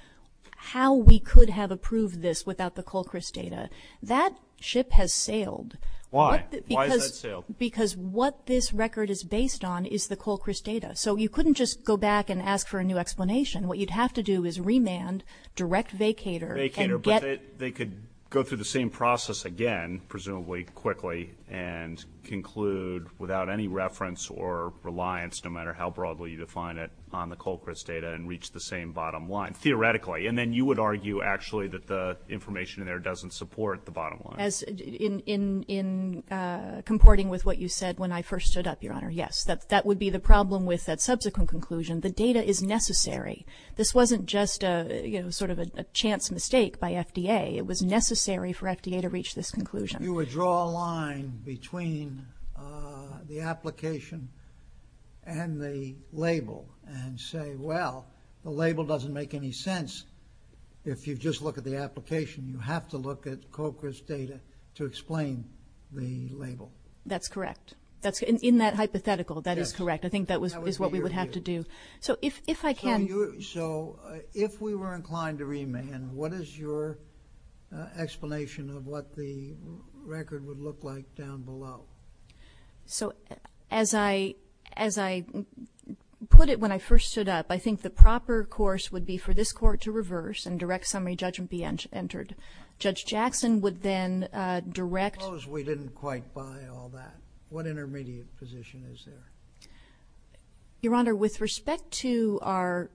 how we could have approved this without the Colchris data, that ship has sailed. Why? Because what this record is based on is the Colchris data. So you couldn't just go back and ask for a new explanation. What you'd have to do is remand direct vacator. Vacator, but they could go through the same process again, presumably quickly, and conclude without any reference or reliance, no matter how broadly you define it on the Colchris data, and reach the same bottom line, theoretically. And then you would argue actually that the information in there doesn't support the bottom line. In comporting with what you said when I first stood up, Your Honor, yes. That would be the problem with that subsequent conclusion. The data is necessary. This wasn't just sort of a chance mistake by FDA. It was necessary for FDA to reach this conclusion. You would draw a line between the application and the label and say, well, the label doesn't make any sense. If you just look at the application, you have to look at Colchris data to explain the label. That's correct. In that hypothetical, that is correct. I think that is what we would have to do. So if I can. So if we were inclined to remand, what is your explanation of what the record would look like down below? So as I put it when I first stood up, I think the proper course would be for this court to reverse and direct summary judgment be entered. Judge Jackson would then direct. Suppose we didn't quite buy all that. What intermediate position is there? Your Honor, with respect to our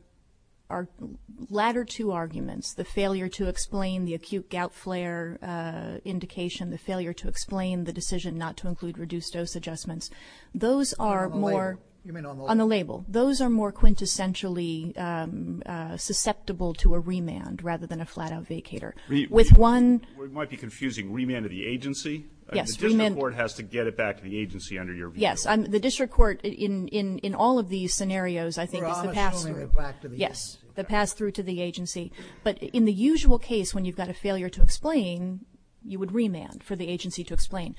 latter two arguments, the failure to explain the acute gout flare indication, the failure to explain the decision not to include reduced dose adjustments, those are more on the label. Those are more quintessentially susceptible to a remand rather than a flat-out vacator. We might be confusing remand to the agency. The district court has to get it back to the agency under your view. Yes, the district court in all of these scenarios, I think, the pass-through to the agency. But in the usual case when you've got a failure to explain, you would remand for the agency to explain.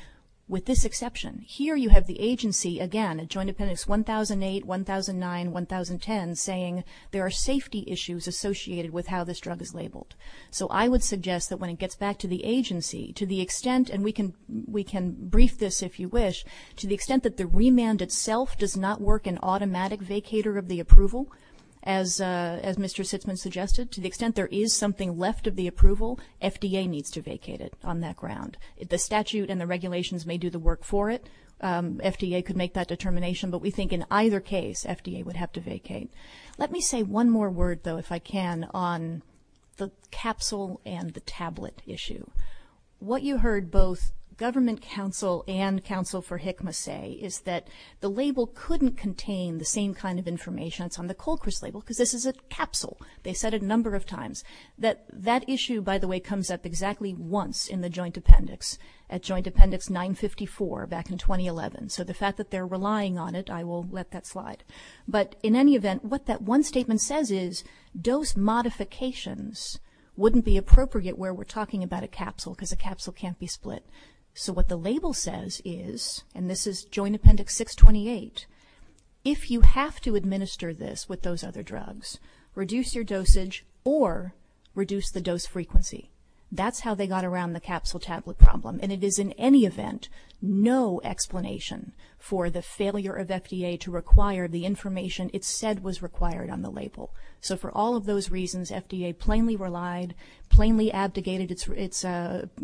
With this exception, here you have the agency, again, in Joint Dependents 1008, 1009, 1010, saying there are safety issues associated with how this drug is labeled. So I would suggest that when it gets back to the agency, to the extent, and we can brief this if you wish, to the extent that the remand itself does not work an automatic vacator of the approval, as Mr. Sitzman suggested, to the extent there is something left of the approval, FDA needs to vacate it on that ground. The statute and the regulations may do the work for it. FDA could make that determination, but we think in either case FDA would have to vacate. Let me say one more word, though, if I can, on the capsule and the tablet issue. What you heard both Government Counsel and Counsel for HCMA say is that the label couldn't contain the same kind of information that's on the Colchris label because this is a capsule. They said it a number of times. That issue, by the way, comes up exactly once in the Joint Appendix, at Joint Appendix 954 back in 2011. So the fact that they're relying on it, I will let that slide. But in any event, what that one statement says is those modifications wouldn't be appropriate where we're talking about a capsule because a capsule can't be split. So what the label says is, and this is Joint Appendix 628, if you have to administer this with those other drugs, reduce your dosage or reduce the dose frequency. That's how they got around the capsule-tablet problem. And it is in any event no explanation for the failure of FDA to require the information it said was required on the label. So for all of those reasons, FDA plainly relied, plainly abdicated its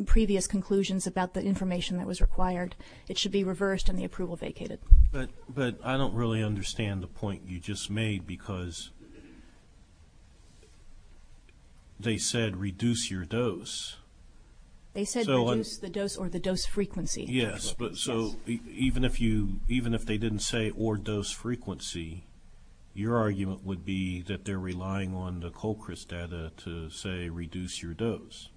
previous conclusions about the information that was required. It should be reversed and the approval vacated. But I don't really understand the point you just made because they said reduce your dose. They said reduce the dose or the dose frequency. Yes, but so even if they didn't say or dose frequency, your argument would be that they're relying on the Colchris data to say reduce your dose.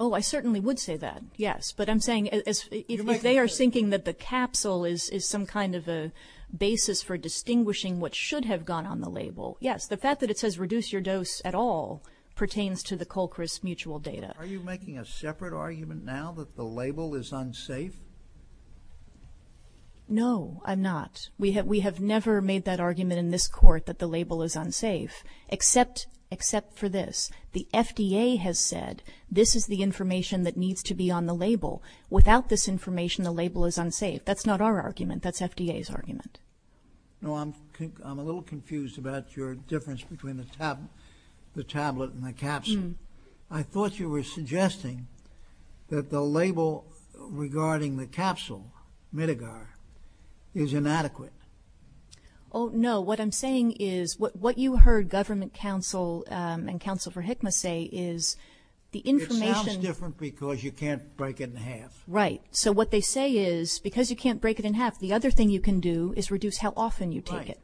Oh, I certainly would say that, yes. But I'm saying if they are thinking that the capsule is some kind of a basis for distinguishing what should have gone on the label, yes. The fact that it says reduce your dose at all pertains to the Colchris mutual data. Are you making a separate argument now that the label is unsafe? No, I'm not. We have never made that argument in this court that the label is unsafe except for this. The FDA has said this is the information that needs to be on the label. Without this information, the label is unsafe. That's not our argument. That's FDA's argument. I'm a little confused about your difference between the tablet and the capsule. I thought you were suggesting that the label regarding the capsule, Midgard, is inadequate. Oh, no. What I'm saying is what you heard government counsel and counsel for HICMA say is the information It sounds different because you can't break it in half. Right. So what they say is because you can't break it in half, the other thing you can do is reduce how often you take it.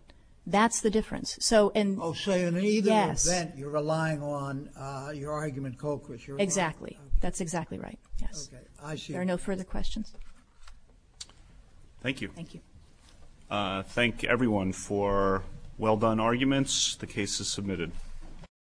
That's the difference. So in either event, you're relying on your argument, Colchris. Exactly. That's exactly right. Okay. I see. There are no further questions. Thank you. Thank everyone for well-done arguments. The case is submitted.